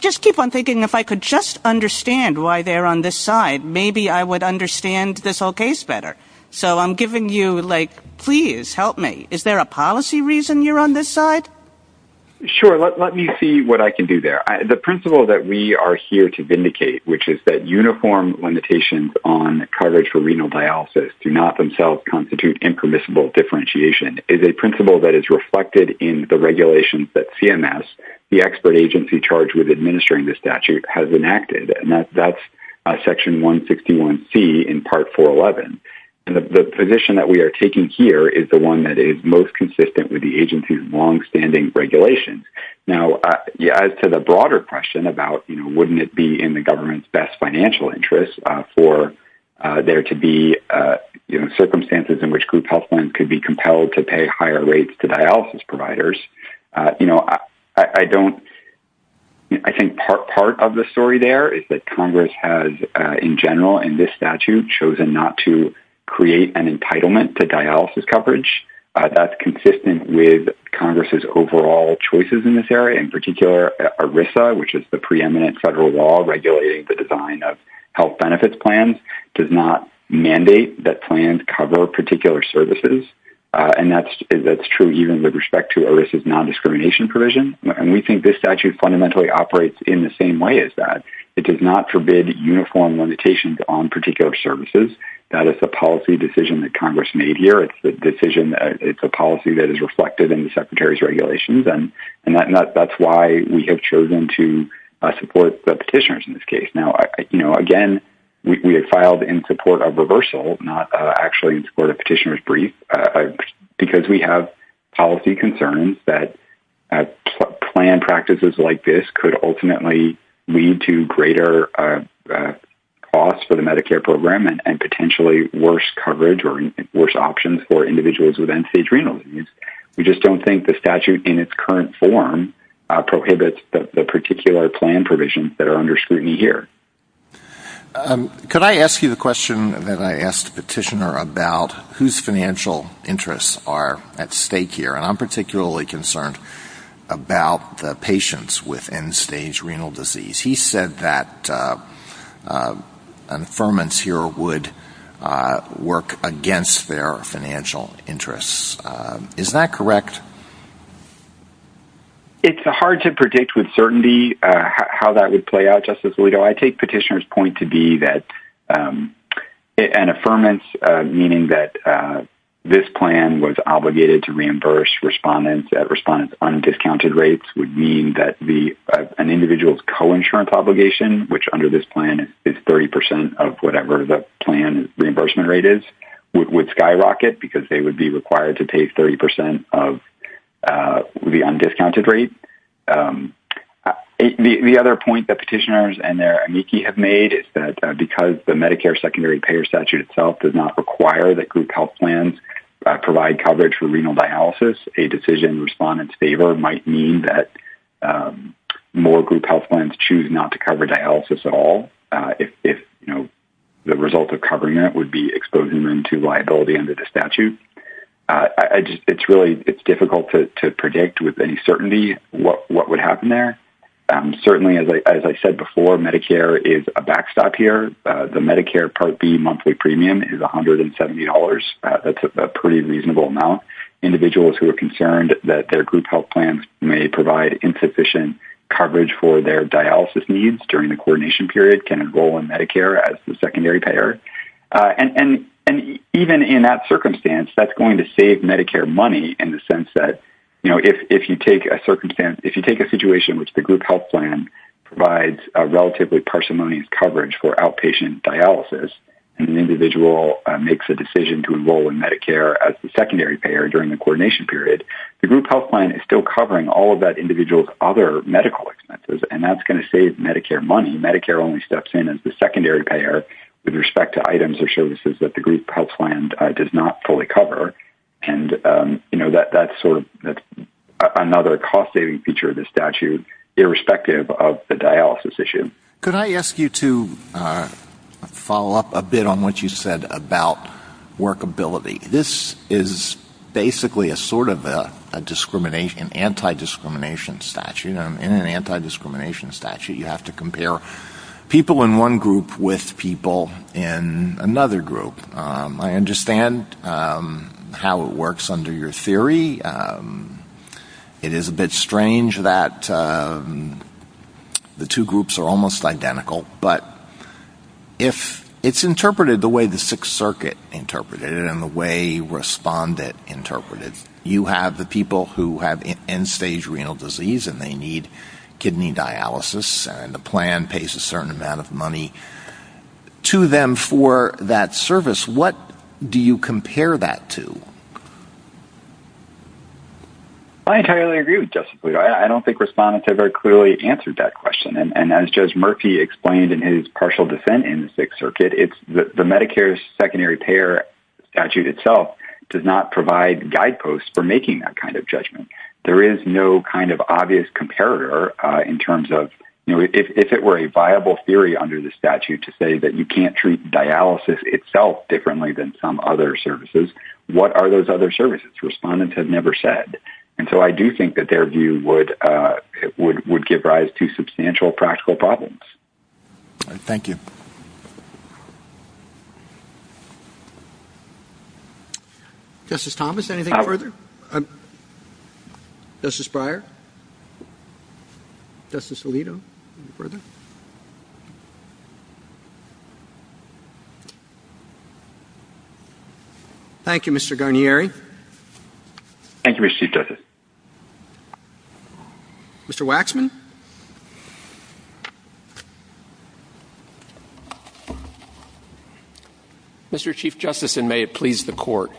Just keep on thinking, if I could just understand why they're on this side, maybe I would understand this whole case better. So I'm giving you, like, please help me. Is there a policy reason you're on this side? Sure, let me see what I can do there. The principle that we are here to vindicate, which is that uniform limitations on coverage for renal dialysis do not themselves constitute impermissible differentiation, is a principle that is reflected in the regulations that CMS, the expert agency charged with administering the statute, has enacted, and that's Section 161C in Part 411. The position that we are taking here is the one that is most consistent with the agency's longstanding regulations. Now, as to the broader question about, you know, wouldn't it be in the government's best financial interest for there to be, you know, circumstances in which group health plans could be compelled to pay higher rates to dialysis providers, you know, I don't – I think part of the story there is that Congress has, in general, in this statute, chosen not to create an entitlement to dialysis coverage. That's consistent with Congress's overall choices in this area. In particular, ERISA, which is the preeminent federal law regulating the design of health benefits plans, does not mandate that plans cover particular services, and that's true even with respect to ERISA's nondiscrimination provision. And we think this statute fundamentally operates in the same way as that. It does not forbid uniform limitations on particular services. That is a policy decision that Congress made here. It's the decision that – it's a policy that is reflected in the secretary's regulations, and that's why we have chosen to support the petitioners in this case. Now, you know, again, we have filed in support of reversal, not actually in support of petitioner's brief, because we have policy concerns that plan practices like this could ultimately lead to greater costs for the Medicare program and potentially worse coverage or worse options for individuals with end-stage renal disease. We just don't think the statute in its current form prohibits the particular plan provisions that are under scrutiny here. Could I ask you the question that I asked the petitioner about whose financial interests are at stake here? And I'm particularly concerned about the patients with end-stage renal disease. He said that an affirmance here would work against their financial interests. Is that correct? It's hard to predict with certainty how that would play out, Justice Alito. I take petitioner's point to be that an affirmance, meaning that this plan was obligated to reimburse respondents, that respondents' undiscounted rates would mean that an individual's co-insurance obligation, which under this plan is 30 percent of whatever the plan's reimbursement rate is, would skyrocket because they would be required to pay 30 percent of the undiscounted rate. The other point that petitioners and their amici have made is that because the Medicare secondary payer statute itself does not require that group health plans provide coverage for renal dialysis, a decision respondents favor might mean that more group health plans choose not to cover dialysis at all, if the result of covering that would be exposing them to liability under the statute. It's really difficult to predict with any certainty what would happen there. Certainly, as I said before, Medicare is a backstop here. The Medicare Part B monthly premium is $170. That's a pretty reasonable amount. Individuals who are concerned that their group health plans may provide insufficient coverage for their dialysis needs during the coordination period can enroll in Medicare as the secondary payer. And even in that circumstance, that's going to save Medicare money in the sense that, you know, if you take a situation in which the group health plan provides a relatively parsimonious coverage for outpatient dialysis and an individual makes a decision to enroll in Medicare as the secondary payer during the coordination period, the group health plan is still covering all of that individual's other medical expenses, and that's going to save Medicare money. Medicare only steps in as the secondary payer with respect to items or services that the group health plan does not fully cover. And, you know, that's sort of another cost-saving feature of the statute, irrespective of the dialysis issue. Could I ask you to follow up a bit on what you said about workability? This is basically a sort of a discrimination, anti-discrimination statute. In an anti-discrimination statute, you have to compare people in one group with people in another group. I understand how it works under your theory. It is a bit strange that the two groups are almost identical, but if it's interpreted the way the Sixth Circuit interpreted it and the way Respondent interpreted it, you have the people who have end-stage renal disease and they need kidney dialysis, and the plan pays a certain amount of money to them for that service. What do you compare that to? I entirely agree with Justice Bluto. I don't think Respondent very clearly answered that question, and as Judge Murphy explained in his partial dissent in the Sixth Circuit, the Medicare secondary payer statute itself does not provide guideposts for making that kind of judgment. There is no kind of obvious comparator in terms of if it were a viable theory under the statute to say that you can't treat dialysis itself differently than some other services, what are those other services? Respondents have never said. And so I do think that their view would give rise to substantial practical problems. Thank you. Thank you. Justice Thomas, anything further? Justice Breyer? Justice Alito? Thank you, Mr. Guarnieri. Thank you, Mr. Chief Justice. Mr. Waxman? Mr. Chief Justice, and may it please the Court,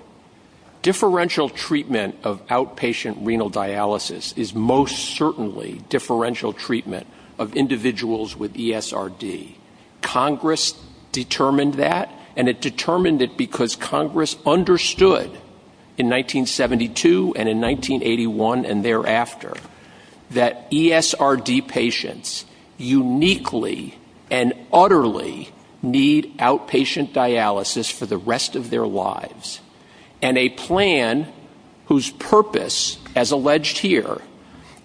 differential treatment of outpatient renal dialysis is most certainly differential treatment of individuals with ESRD. Congress determined that, and it determined it because Congress understood in 1972 and in 1981 and thereafter that ESRD patients uniquely and utterly need outpatient dialysis for the rest of their lives. And a plan whose purpose, as alleged here,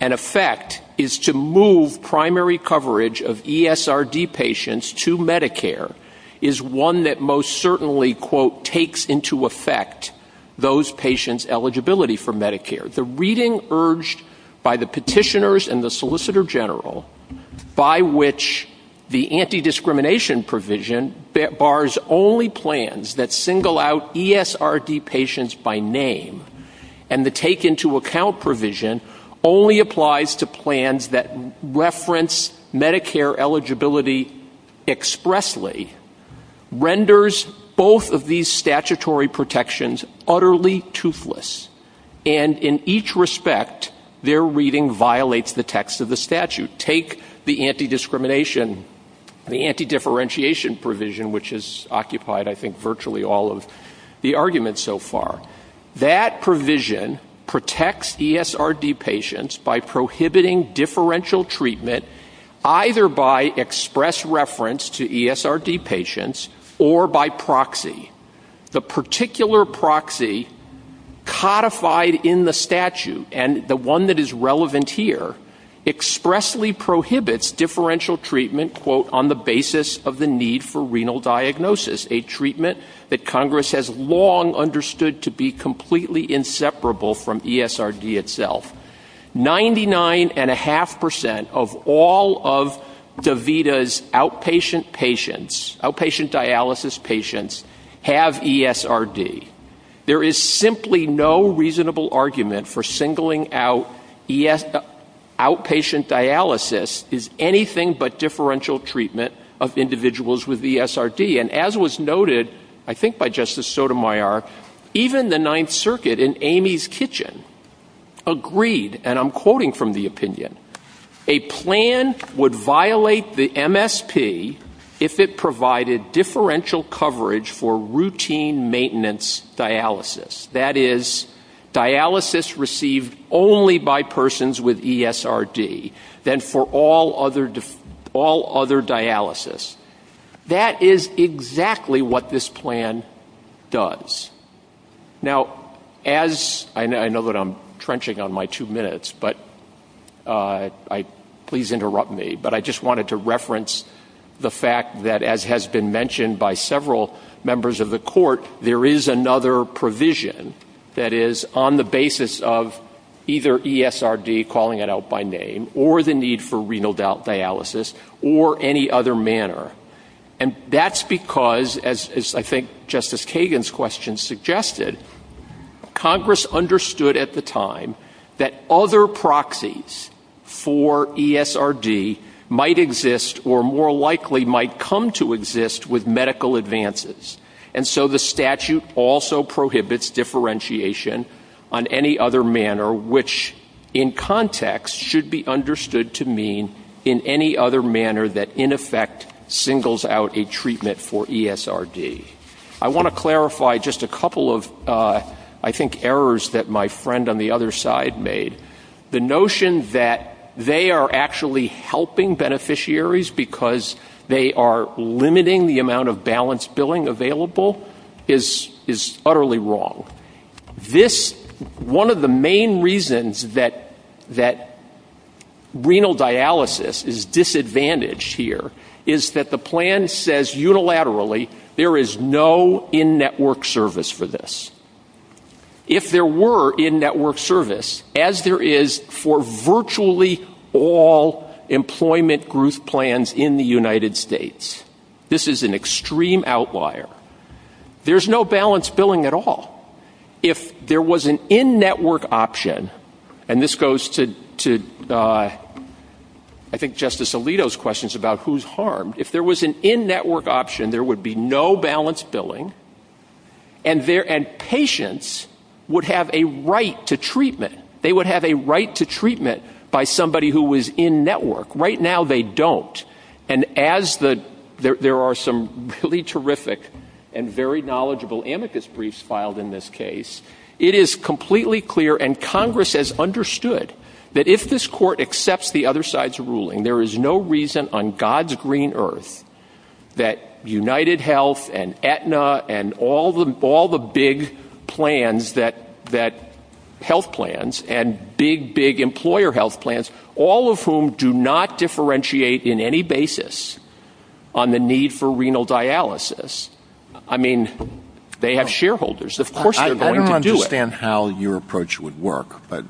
and effect is to move primary coverage of ESRD patients to Medicare is one that most certainly, quote, takes into effect those patients' eligibility for Medicare. The reading urged by the petitioners and the Solicitor General, by which the anti-discrimination provision bars only plans that single out ESRD patients by name and the take-into-account provision only applies to plans that reference Medicare eligibility expressly, renders both of these statutory protections utterly toothless. And in each respect, their reading violates the text of the statute. Take the anti-discrimination, the anti-differentiation provision, which has occupied, I think, virtually all of the arguments so far. That provision protects ESRD patients by prohibiting differential treatment either by express reference to ESRD patients or by proxy. The particular proxy codified in the statute, and the one that is relevant here, expressly prohibits differential treatment, quote, on the basis of the need for renal diagnosis, a treatment that Congress has long understood to be completely inseparable from ESRD itself. Ninety-nine and a half percent of all of DaVita's outpatient dialysis patients have ESRD. There is simply no reasonable argument for singling out outpatient dialysis as anything but differential treatment of individuals with ESRD. And as was noted, I think by Justice Sotomayor, even the Ninth Circuit in Amy's Kitchen agreed, and I'm quoting from the opinion, a plan would violate the MSP if it provided differential coverage for routine maintenance dialysis. That is, dialysis received only by persons with ESRD than for all other dialysis. That is exactly what this plan does. Now, as I know that I'm trenching on my two minutes, but please interrupt me, but I just wanted to reference the fact that as has been mentioned by several members of the court, there is another provision that is on the basis of either ESRD, calling it out by name, or the need for renal dialysis or any other manner. And that's because, as I think Justice Kagan's question suggested, Congress understood at the time that other proxies for ESRD might exist or more likely might come to exist with medical advances. And so the statute also prohibits differentiation on any other manner, which in context should be understood to mean in any other manner that in effect singles out a treatment for ESRD. I want to clarify just a couple of, I think, errors that my friend on the other side made. The notion that they are actually helping beneficiaries because they are limiting the amount of balance billing available is utterly wrong. One of the main reasons that renal dialysis is disadvantaged here is that the plan says unilaterally there is no in-network service for this. If there were in-network service, as there is for virtually all employment group plans in the United States, this is an extreme outlier. There's no balance billing at all. If there was an in-network option, and this goes to, I think, Justice Alito's questions about who's harmed. If there was an in-network option, there would be no balance billing, and patients would have a right to treatment. They would have a right to treatment by somebody who was in-network. Right now, they don't, and as there are some really terrific and very knowledgeable amicus briefs filed in this case, it is completely clear, and Congress has understood, that if this court accepts the other side's ruling, there is no reason on God's green earth that UnitedHealth and Aetna and all the big health plans and big, big employer health plans, all of whom do not differentiate in any basis on the need for renal dialysis, I mean, they have shareholders. Of course they're going to do it. I don't understand how your approach would work, but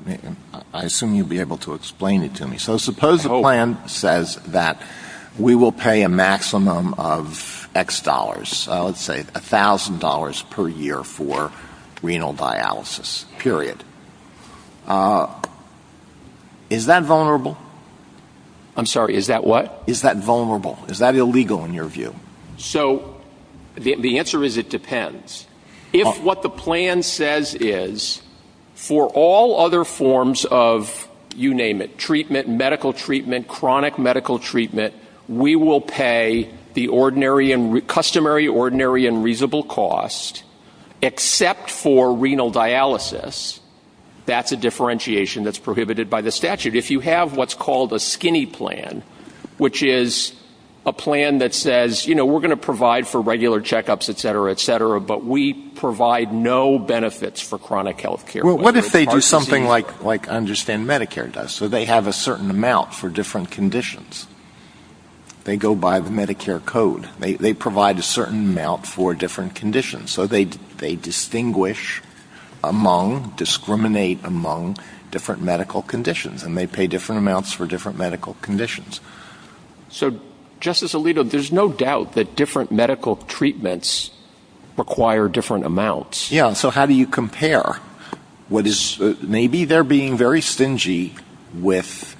I assume you'd be able to explain it to me. So suppose the plan says that we will pay a maximum of X dollars, let's say $1,000 per year for renal dialysis, period. Is that vulnerable? I'm sorry, is that what? Is that vulnerable? Is that illegal in your view? So the answer is it depends. If what the plan says is for all other forms of, you name it, treatment, medical treatment, chronic medical treatment, we will pay the customary, ordinary, and reasonable cost, except for renal dialysis, that's a differentiation that's prohibited by the statute. If you have what's called a skinny plan, which is a plan that says, you know, we're going to provide for regular checkups, et cetera, et cetera, but we provide no benefits for chronic health care. Well, what if they do something like I understand Medicare does, so they have a certain amount for different conditions. They go by the Medicare code. They provide a certain amount for different conditions, so they distinguish among, discriminate among different medical conditions, and they pay different amounts for different medical conditions. So, Justice Alito, there's no doubt that different medical treatments require different amounts. Yeah, so how do you compare? Maybe they're being very stingy with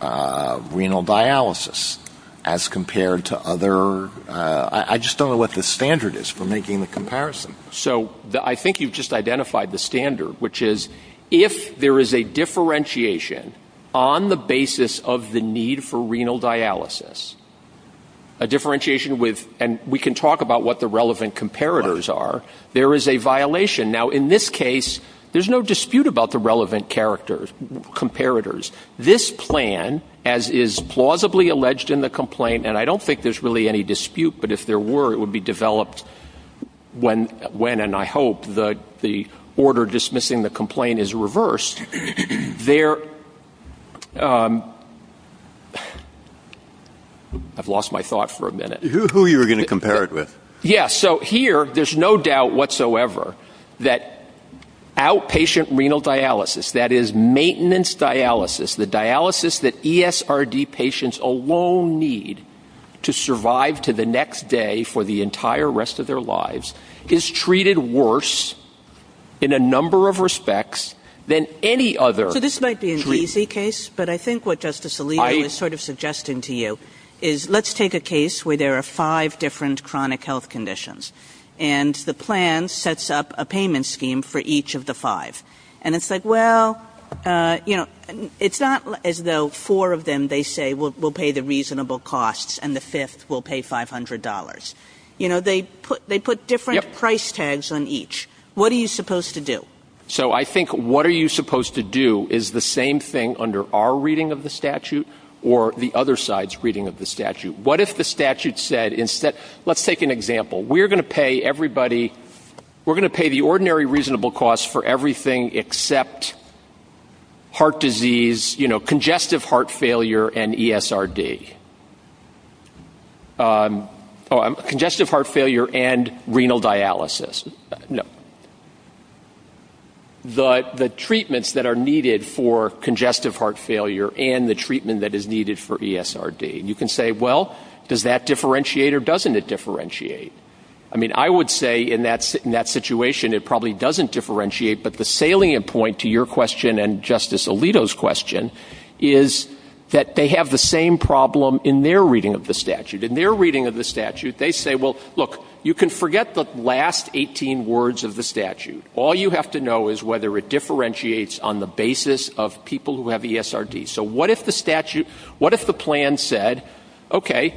renal dialysis as compared to other. I just don't know what the standard is for making the comparison. So I think you've just identified the standard, which is if there is a differentiation on the basis of the need for renal dialysis, a differentiation with, and we can talk about what the relevant comparators are, there is a violation. Now, in this case, there's no dispute about the relevant comparators. This plan, as is plausibly alleged in the complaint, and I don't think there's really any dispute, but if there were, it would be developed when, and I hope, the order dismissing the complaint is reversed. I've lost my thought for a minute. Who are you going to compare it with? Yeah, so here, there's no doubt whatsoever that outpatient renal dialysis, that is maintenance dialysis, the dialysis that ESRD patients alone need to survive to the next day for the entire rest of their lives, is treated worse in a number of respects than any other treatment. So this might be an easy case, but I think what Justice Alito is sort of suggesting to you is let's take a case where there are five different chronic health conditions and the plan sets up a payment scheme for each of the five. And it's like, well, you know, it's not as though four of them, they say, will pay the reasonable costs and the fifth will pay $500. You know, they put different price tags on each. What are you supposed to do? So I think what are you supposed to do is the same thing under our reading of the statute or the other side's reading of the statute. What if the statute said instead, let's take an example, we're going to pay everybody, we're going to pay the ordinary reasonable cost for everything except heart disease, you know, congestive heart failure and ESRD. Congestive heart failure and renal dialysis. The treatments that are needed for congestive heart failure and the treatment that is needed for ESRD. You can say, well, does that differentiate or doesn't it differentiate? I mean, I would say in that situation it probably doesn't differentiate, but the salient point to your question and Justice Alito's question is that they have the same problem in their reading of the statute. In their reading of the statute, they say, well, look, you can forget the last 18 words of the statute. All you have to know is whether it differentiates on the basis of people who have ESRD. So what if the plan said, okay,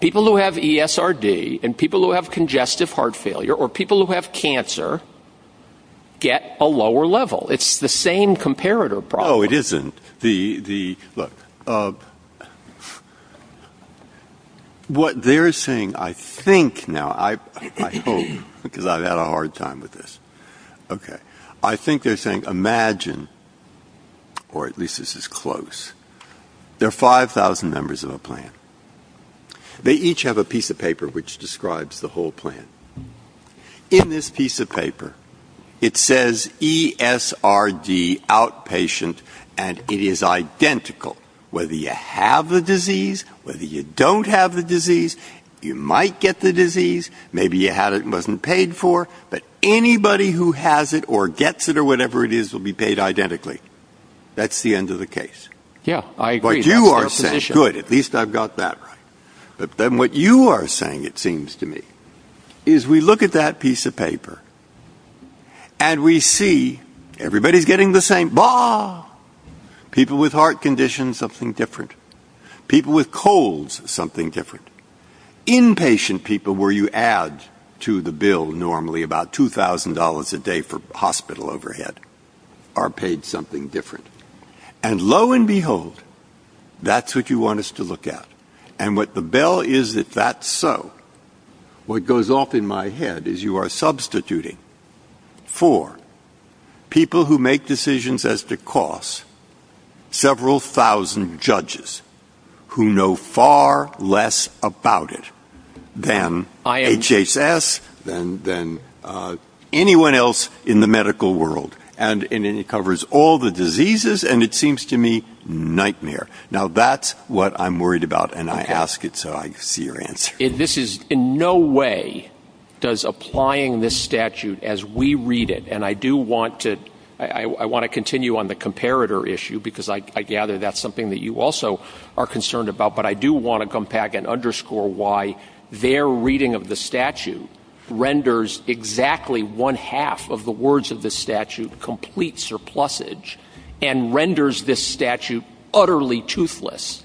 people who have ESRD and people who have congestive heart failure or people who have cancer get a lower level? It's the same comparator problem. No, it isn't. What they're saying, I think now, I hope, because I've had a hard time with this. Okay. I think they're saying imagine, or at least this is close, there are 5,000 members of a plan. They each have a piece of paper which describes the whole plan. In this piece of paper, it says ESRD outpatient, and it is identical. Whether you have the disease, whether you don't have the disease, you might get the disease, maybe you had it and it wasn't paid for, but anybody who has it or gets it or whatever it is will be paid identically. That's the end of the case. Yeah, I agree. That's good. At least I've got that right. Then what you are saying, it seems to me, is we look at that piece of paper and we see everybody is getting the same. People with heart conditions, something different. People with colds, something different. Inpatient people where you add to the bill normally about $2,000 a day for hospital overhead are paid something different. And lo and behold, that's what you want us to look at. And what the bill is, if that's so, what goes off in my head is you are substituting for people who make decisions as to cost, several thousand judges who know far less about it than IHSS, than anyone else in the medical world. And it covers all the diseases, and it seems to me, nightmare. Now, that's what I'm worried about, and I ask it so I see your answer. This is in no way does applying this statute as we read it, and I do want to continue on the comparator issue, because I gather that's something that you also are concerned about, but I do want to come back and underscore why their reading of the statute renders exactly one half of the words of the statute complete surplusage and renders this statute utterly toothless.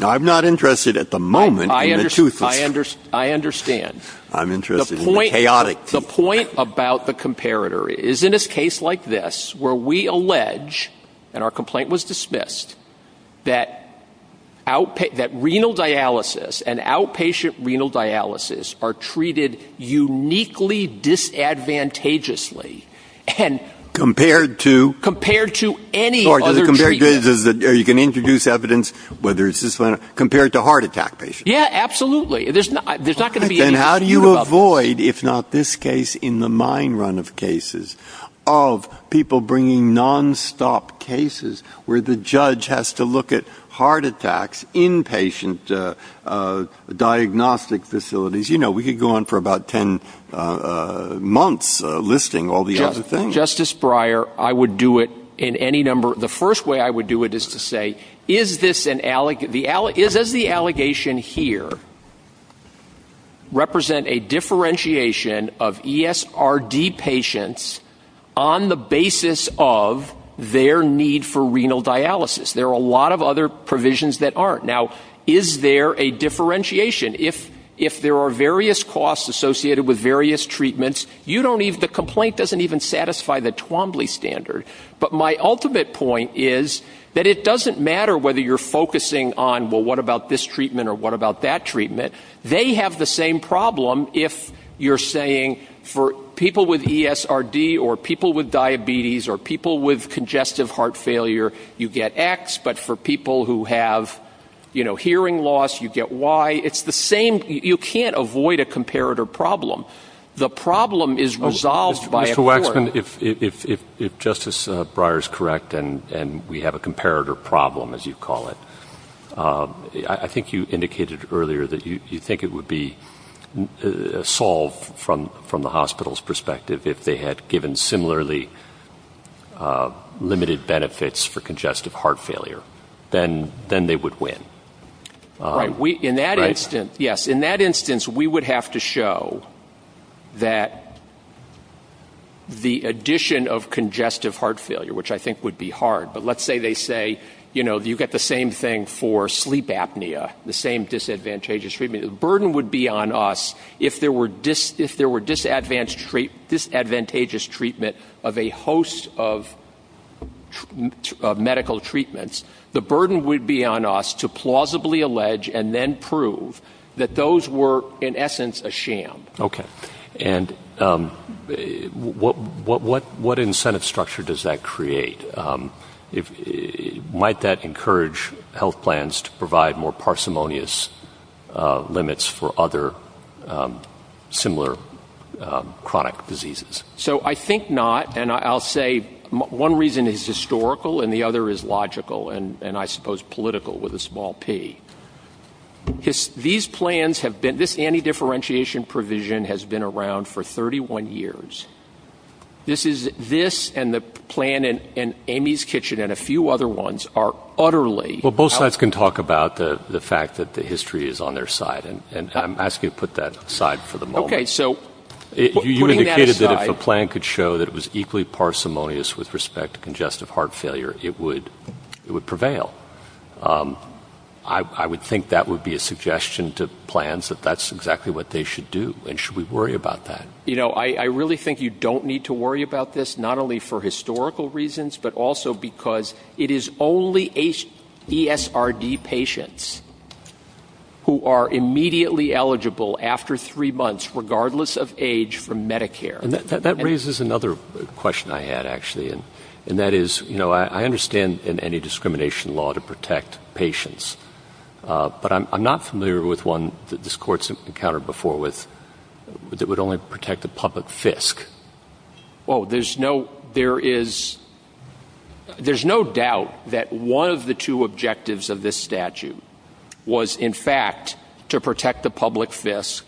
I'm not interested at the moment in the toothless. I understand. I'm interested in the chaotic. The point about the comparator is in a case like this where we allege, and our complaint was dismissed, that renal dialysis and outpatient renal dialysis are treated uniquely disadvantageously. Compared to? Compared to any other treatment. Or you can introduce evidence, whether it's this one, compared to heart attack patients. Yeah, absolutely. There's not going to be any argument about that. Then how do you avoid, if not this case, in the mine run of cases, of people bringing nonstop cases where the judge has to look at heart attacks, inpatient diagnostic facilities. We could go on for about 10 months listing all the other things. Justice Breyer, I would do it in any number. The first way I would do it is to say, is the allegation here represent a differentiation of ESRD patients on the basis of their need for renal dialysis? There are a lot of other provisions that aren't. Now, is there a differentiation? If there are various costs associated with various treatments, the complaint doesn't even satisfy the Twombly standard. But my ultimate point is that it doesn't matter whether you're focusing on, well, what about this treatment or what about that treatment. They have the same problem if you're saying for people with ESRD or people with diabetes or people with congestive heart failure, you get X, but for people who have hearing loss, you get Y. It's the same. You can't avoid a comparator problem. The problem is resolved by a court. Dr. Wexman, if Justice Breyer is correct and we have a comparator problem, as you call it, I think you indicated earlier that you think it would be solved from the hospital's perspective if they had given similarly limited benefits for congestive heart failure, then they would win. Right. In that instance, yes, in that instance, we would have to show that the addition of congestive heart failure, which I think would be hard, but let's say they say, you know, you get the same thing for sleep apnea, the same disadvantageous treatment. The burden would be on us if there were disadvantageous treatment of a host of medical treatments. The burden would be on us to plausibly allege and then prove that those were, in essence, a sham. Okay. And what incentive structure does that create? Might that encourage health plans to provide more parsimonious limits for other similar chronic diseases? So I think not, and I'll say one reason is historical and the other is logical and, I suppose, political with a small p. These plans have been, this anti-differentiation provision has been around for 31 years. This and the plan in Amy's Kitchen and a few other ones are utterly Well, both sides can talk about the fact that the history is on their side, and I'm asking you to put that aside for the moment. Okay. You indicated that if a plan could show that it was equally parsimonious with respect to congestive heart failure, it would prevail. I would think that would be a suggestion to plans, that that's exactly what they should do, and should we worry about that? You know, I really think you don't need to worry about this, not only for historical reasons, but also because it is only ESRD patients who are immediately eligible after three months, regardless of age, for Medicare. That raises another question I had, actually, and that is, you know, I understand any discrimination law to protect patients, but I'm not familiar with one that this court's encountered before that would only protect a public FISC. Well, there's no doubt that one of the two objectives of this statute was, in fact, to protect the public FISC,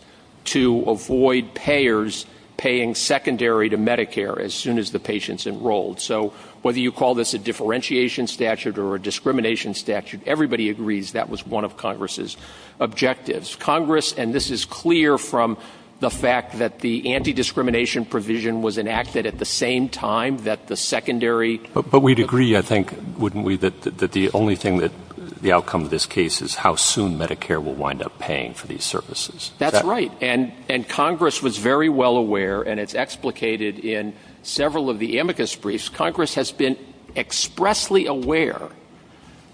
to avoid payers paying secondary to Medicare as soon as the patient's enrolled. So whether you call this a differentiation statute or a discrimination statute, everybody agrees that was one of Congress's objectives. Congress, and this is clear from the fact that the antidiscrimination provision was enacted at the same time that the secondary... But we'd agree, I think, wouldn't we, that the only thing that the outcome of this case is how soon Medicare will wind up paying for these services? That's right. And Congress was very well aware, and it's explicated in several of the amicus briefs, Congress has been expressly aware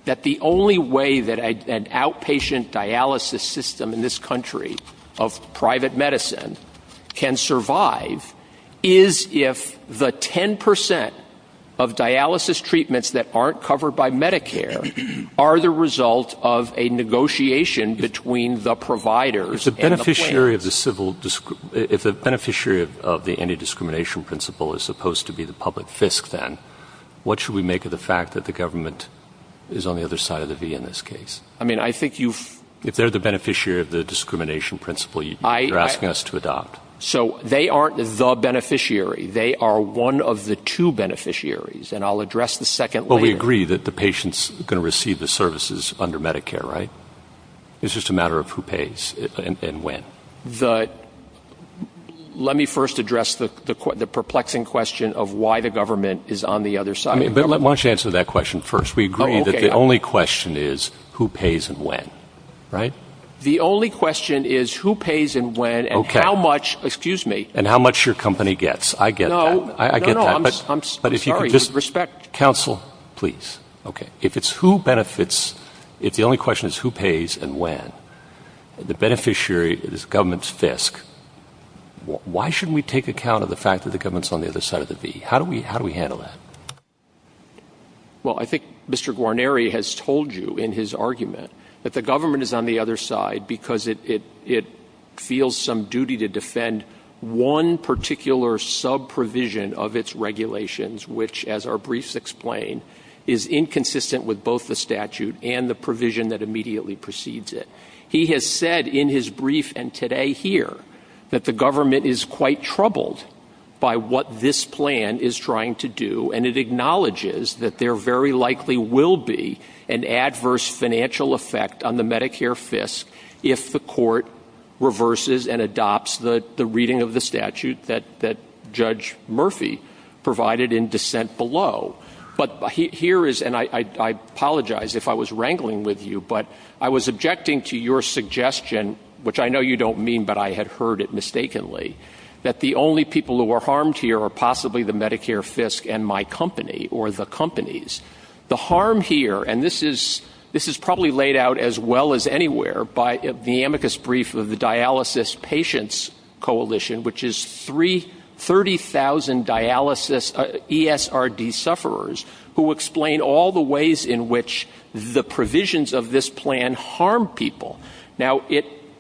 that the only way that an outpatient dialysis system in this country of private medicine can survive is if the 10% of dialysis treatments that aren't covered by Medicare are the result of a negotiation between the providers and the plan. If the beneficiary of the antidiscrimination principle is supposed to be the public FISC, then, what should we make of the fact that the government is on the other side of the V in this case? I mean, I think you've... If they're the beneficiary of the discrimination principle, you're asking us to adopt. So they aren't the beneficiary. They are one of the two beneficiaries, and I'll address the second layer. Well, we agree that the patient's going to receive the services under Medicare, right? It's just a matter of who pays and when. Let me first address the perplexing question of why the government is on the other side. Why don't you answer that question first? We agree that the only question is who pays and when, right? The only question is who pays and when and how much, excuse me... And how much your company gets. No, no, no, I'm sorry. But if you could just... With respect... Counsel, please. Okay. If it's who benefits, if the only question is who pays and when, the beneficiary is government's FISC, why shouldn't we take account of the fact that the government's on the other side of the V? How do we handle that? Well, I think Mr. Guarneri has told you in his argument that the government is on the other side because it feels some duty to defend one particular sub-provision of its regulations, which, as our briefs explain, is inconsistent with both the statute and the provision that immediately precedes it. He has said in his brief and today here that the government is quite troubled by what this plan is trying to do and it acknowledges that there very likely will be an adverse financial effect on the Medicare FISC if the court reverses and adopts the reading of the statute that Judge Murphy provided in dissent below. But here is... And I apologize if I was wrangling with you, but I was objecting to your suggestion, which I know you don't mean, but I had heard it mistakenly, that the only people who are harmed here are possibly the Medicare FISC and my company, or the companies. The harm here, and this is probably laid out as well as anywhere by the amicus brief of the Dialysis Patients Coalition, which is 30,000 dialysis ESRD sufferers who explain all the ways in which the provisions of this plan harm people. Now,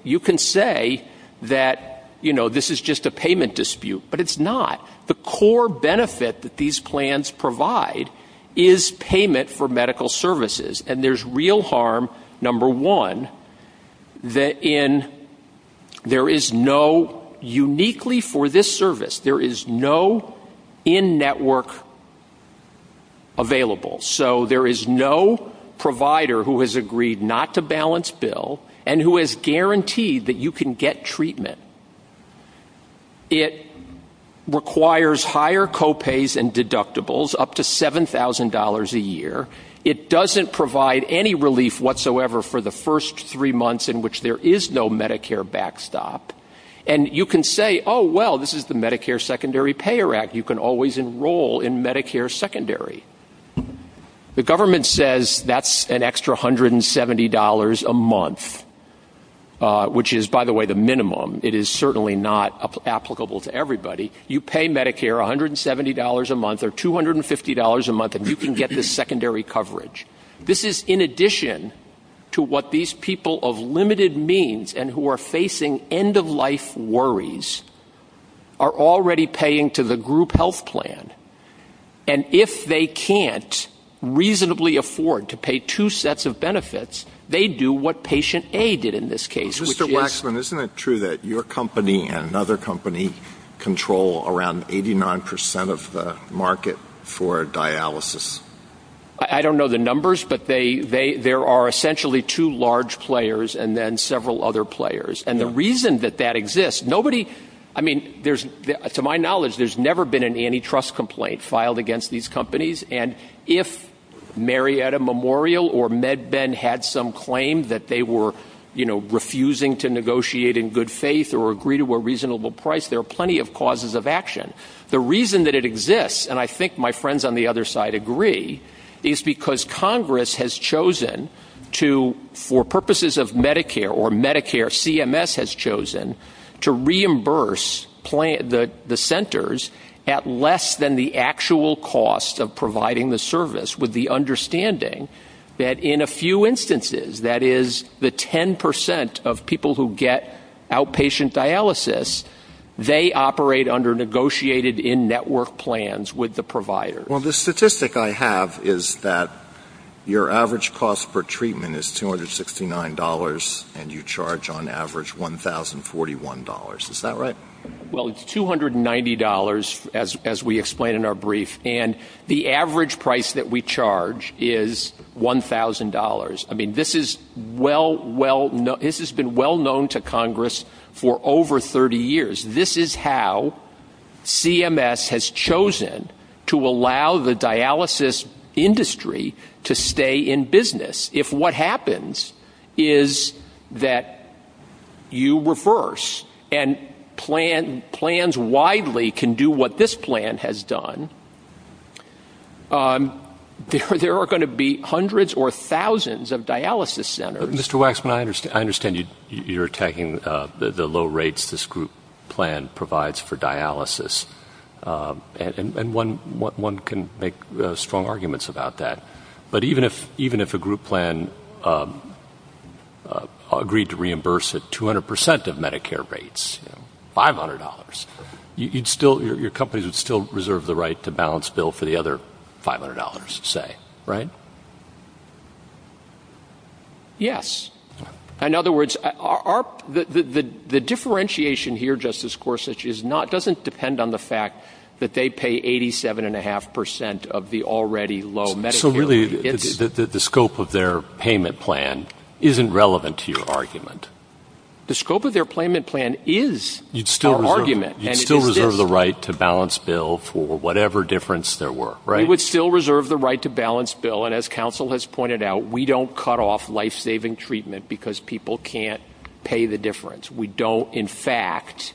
you can say that this is just a payment dispute, but it's not. The core benefit that these plans provide is payment for medical services, and there's real harm, number one, that there is no, uniquely for this service, there is no in-network available. So there is no provider who has agreed not to balance bill and who has guaranteed that you can get treatment. It requires higher copays and deductibles, up to $7,000 a year. It doesn't provide any relief whatsoever for the first three months in which there is no Medicare backstop. And you can say, oh, well, this is the Medicare Secondary Payer Act. You can always enroll in Medicare Secondary. The government says that's an extra $170 a month, which is, by the way, the minimum. It is certainly not applicable to everybody. You pay Medicare $170 a month or $250 a month, and you can get this secondary coverage. This is in addition to what these people of limited means and who are facing end-of-life worries are already paying to the group health plan. And if they can't reasonably afford to pay two sets of benefits, they do what patient A did in this case. Mr. Waxman, isn't it true that your company and another company control around 89% of the market for dialysis? I don't know the numbers, but there are essentially two large players and then several other players. And the reason that that exists, nobody... I mean, to my knowledge, there's never been an antitrust complaint filed against these companies. And if Marietta Memorial or MedBend had some claim that they were, you know, refusing to negotiate in good faith or agree to a reasonable price, there are plenty of causes of action. The reason that it exists, and I think my friends on the other side agree, is because Congress has chosen to, for purposes of Medicare or Medicare, CMS has chosen to reimburse the centers at less than the actual cost of providing the service with the understanding that in a few instances, that is, the 10% of people who get outpatient dialysis, they operate under negotiated in-network plans with the provider. Well, the statistic I have is that your average cost per treatment is $269 and you charge, on average, $1,041. Is that right? Well, it's $290, as we explained in our brief, and the average price that we charge is $1,000. I mean, this has been well known to Congress for over 30 years. This is how CMS has chosen to allow the dialysis industry to stay in business. If what happens is that you reverse and plans widely can do what this plan has done, there are going to be hundreds or thousands of dialysis centers. Mr. Waxman, I understand you're attacking the low rates this group plan provides for dialysis, and one can make strong arguments about that, but even if a group plan agreed to reimburse at 200% of Medicare rates, $500, your company would still reserve the right to balance bill for the other $500, say, right? Yes. In other words, the differentiation here, Justice Gorsuch, doesn't depend on the fact that they pay 87.5% of the already low Medicare. So really, the scope of their payment plan isn't relevant to your argument. The scope of their payment plan is our argument. You'd still reserve the right to balance bill for whatever difference there were, right? We would still reserve the right to balance bill, and as counsel has pointed out, we don't cut off life-saving treatment because people can't pay the difference. We don't, in fact,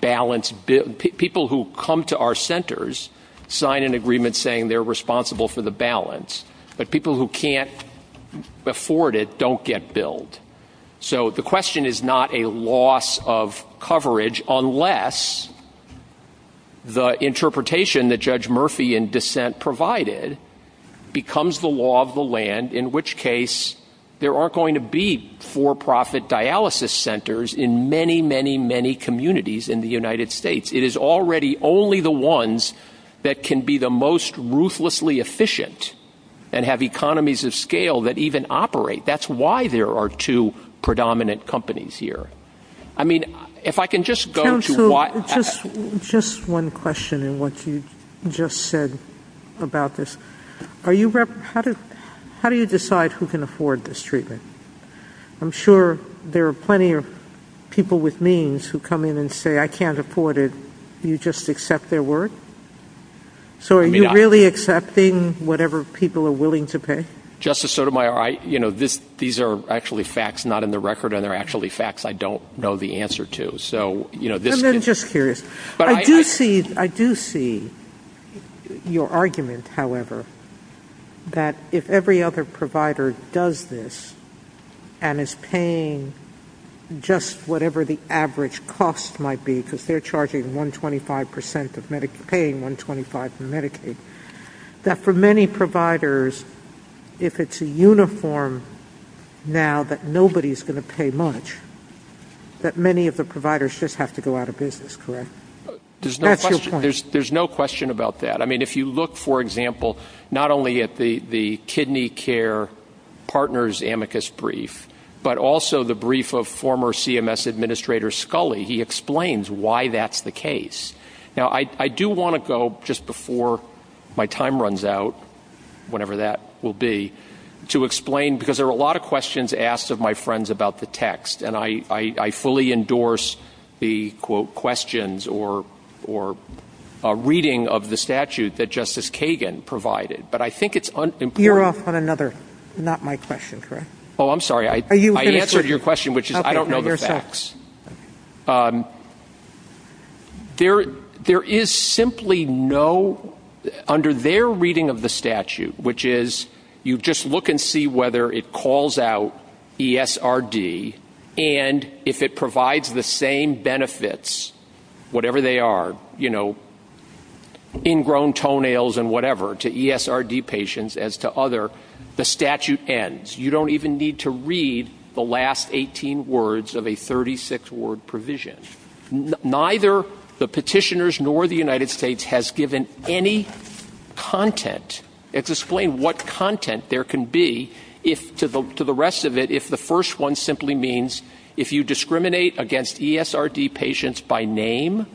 balance bill. People who come to our centers sign an agreement saying they're responsible for the balance, but people who can't afford it don't get billed. So the question is not a loss of coverage unless the interpretation that Judge Murphy in dissent provided becomes the law of the land, in which case there are going to be for-profit dialysis centers in many, many, many communities in the United States. It is already only the ones that can be the most ruthlessly efficient and have economies of scale that even operate. That's why there are two predominant companies here. I mean, if I can just go to what... Counsel, just one question in what you just said about this. How do you decide who can afford this treatment? I'm sure there are plenty of people with means who come in and say, I can't afford it. Do you just accept their word? So are you really accepting whatever people are willing to pay? Justice Sotomayor, you know, these are actually facts not in the record, and they're actually facts I don't know the answer to. I'm just curious. I do see your argument, however, that if every other provider does this and is paying just whatever the average cost might be, because they're charging 125% of Medicaid, paying 125 for Medicaid, that for many providers, if it's a uniform now that nobody's going to pay much, that many of the providers just have to go out of business, correct? There's no question about that. I mean, if you look, for example, not only at the Kidney Care Partners amicus brief, but also the brief of former CMS Administrator Scully, he explains why that's the case. Now, I do want to go, just before my time runs out, whenever that will be, to explain, because there are a lot of questions asked of my friends about the text, and I fully endorse the, quote, questions or reading of the statute that Justice Kagan provided. But I think it's unimportant. You're off on another, not my question, correct? Oh, I'm sorry. I answered your question, which is I don't know the facts. There is simply no, under their reading of the statute, which is you just look and see whether it calls out ESRD, and if it provides the same benefits, whatever they are, you know, ingrown toenails and whatever to ESRD patients as to other, the statute ends. You don't even need to read the last 18 words of a 36-word provision. Neither the petitioners nor the United States has given any content to explain what content there can be to the rest of it if the first one simply means if you discriminate against ESRD patients by name,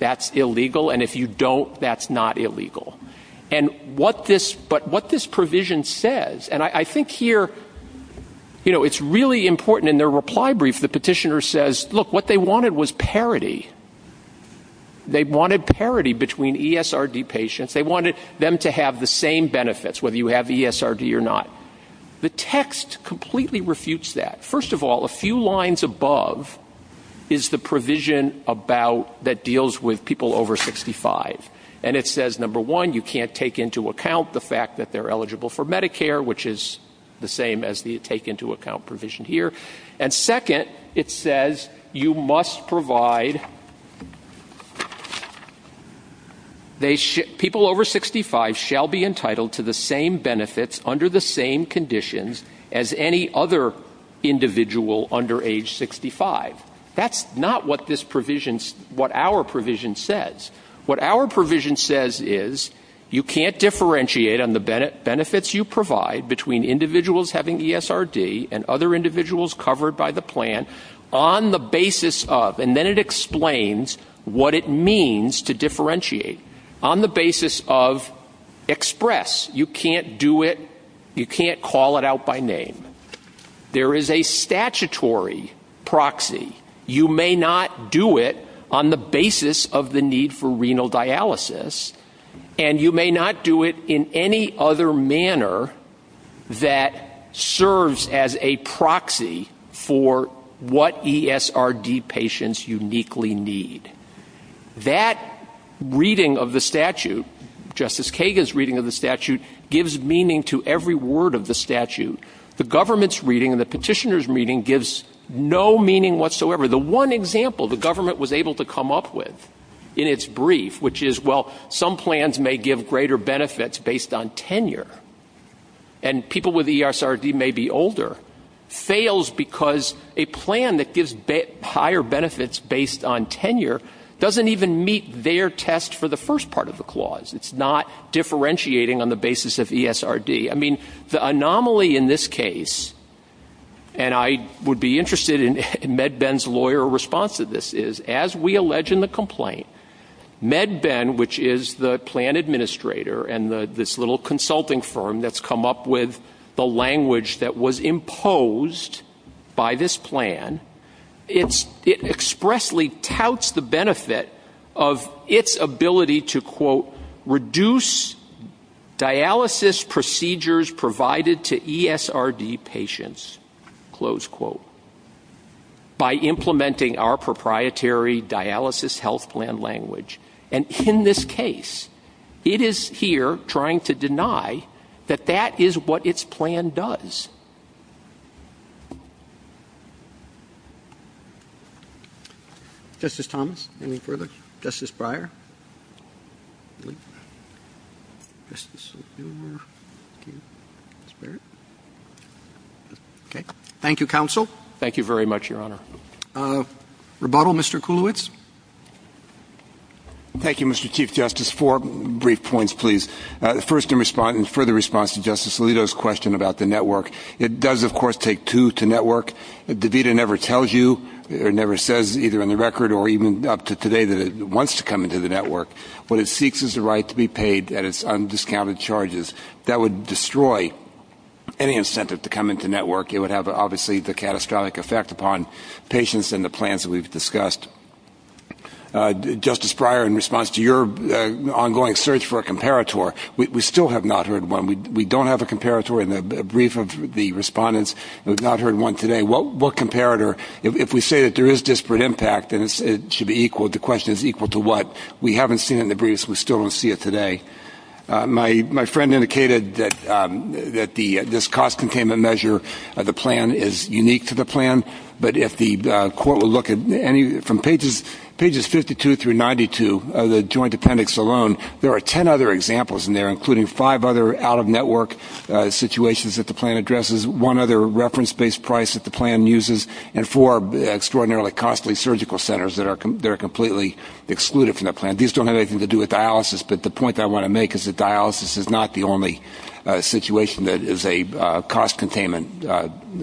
that's illegal, and if you don't, that's not illegal. But what this provision says, and I think here, you know, it's really important in their reply brief the petitioner says, look, what they wanted was parity. They wanted parity between ESRD patients. They wanted them to have the same benefits, whether you have ESRD or not. The text completely refutes that. First of all, a few lines above is the provision about, that deals with people over 65, and it says, number one, you can't take into account the fact that they're eligible for Medicare, which is the same as the take into account provision here, and second, it says you must provide, people over 65 shall be entitled to the same benefits under the same conditions as any other individual under age 65. That's not what this provision, what our provision says. What our provision says is you can't differentiate on the benefits you ESRD and other individuals covered by the plan on the basis of, and then it explains what it means to differentiate. On the basis of express. You can't do it, you can't call it out by name. There is a statutory proxy. You may not do it on the basis of the need for renal dialysis, and you may not do it in any other manner that serves as a proxy for what ESRD patients uniquely need. That reading of the statute, Justice Kagan's reading of the statute, gives meaning to every word of the statute. The government's reading and the petitioner's reading gives no meaning whatsoever. The one example the government was able to come up with in its brief, which is some plans may give greater benefits based on tenure, and people with ESRD may be older, fails because a plan that gives higher benefits based on tenure doesn't even meet their test for the first part of the clause. It's not differentiating on the basis of ESRD. The anomaly in this case, and I would be interested in MedBend's lawyer response to this, is as we allege in the complaint, MedBend, which is the plan administrator, and this little consulting firm that's come up with the language that was imposed by this plan, it expressly touts the benefit of its ability to reduce dialysis procedures provided to ESRD patients. By implementing our proprietary dialysis health plan language. And in this case, it is here trying to deny that that is what its plan does. Justice Thomas, any further? Justice Breyer? Okay. Thank you, Counsel. Thank you very much, Your Honor. Rebuttal, Mr. Kulowitz? Thank you, Mr. Chief Justice. Four brief points, please. First, in response, in further response to Justice Alito's question about the network, it does, of course, take two to network. The VITA never tells you, it never says either on the record or even up to today that it wants to come into the network. What it seeks is the right to be paid at its undiscounted charges. That would destroy any incentive to come into network. It would have obviously the catastrophic effect upon patients and the plans that we've discussed. Justice Breyer, in response to your ongoing search for a comparator, we still have not heard one. We don't have a comparator in the brief of the respondents. We've not heard one today. What comparator, if we say that there is disparate impact and it should be equal, the question is equal to what? We haven't seen it in the briefs. We still don't see it today. My friend indicated that this cost containment measure of the plan is unique to the plan. But if the court will look at any from pages 52 through 92 of the joint appendix alone, there are 10 other examples in there, including five other out-of-network situations that the plan addresses, one other reference-based price that the plan uses, and four extraordinarily costly surgical centers that are completely excluded from the plan. These don't have anything to do with dialysis, but the point that I want to make is that dialysis is not the only situation that is a cost containment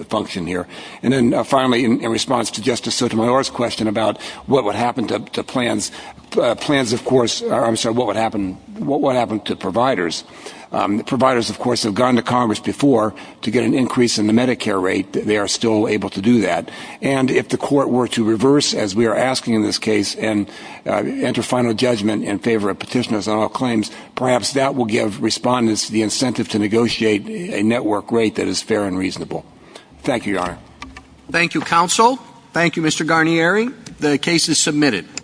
function here. And then finally, in response to Justice Sotomayor's question about what would happen to plans, plans, of course, I'm sorry, what would happen to providers? Providers, of course, have gone to Congress before to get an increase in the Medicare rate. They are still able to do that. And if the court were to reverse, as we are asking in this case, and enter final judgment in favor of petitioners on all claims, perhaps that will give respondents the incentive to negotiate a network rate that is fair and reasonable. Thank you, Your Honor. Thank you, counsel. Thank you, Mr. Garnieri. The case is submitted.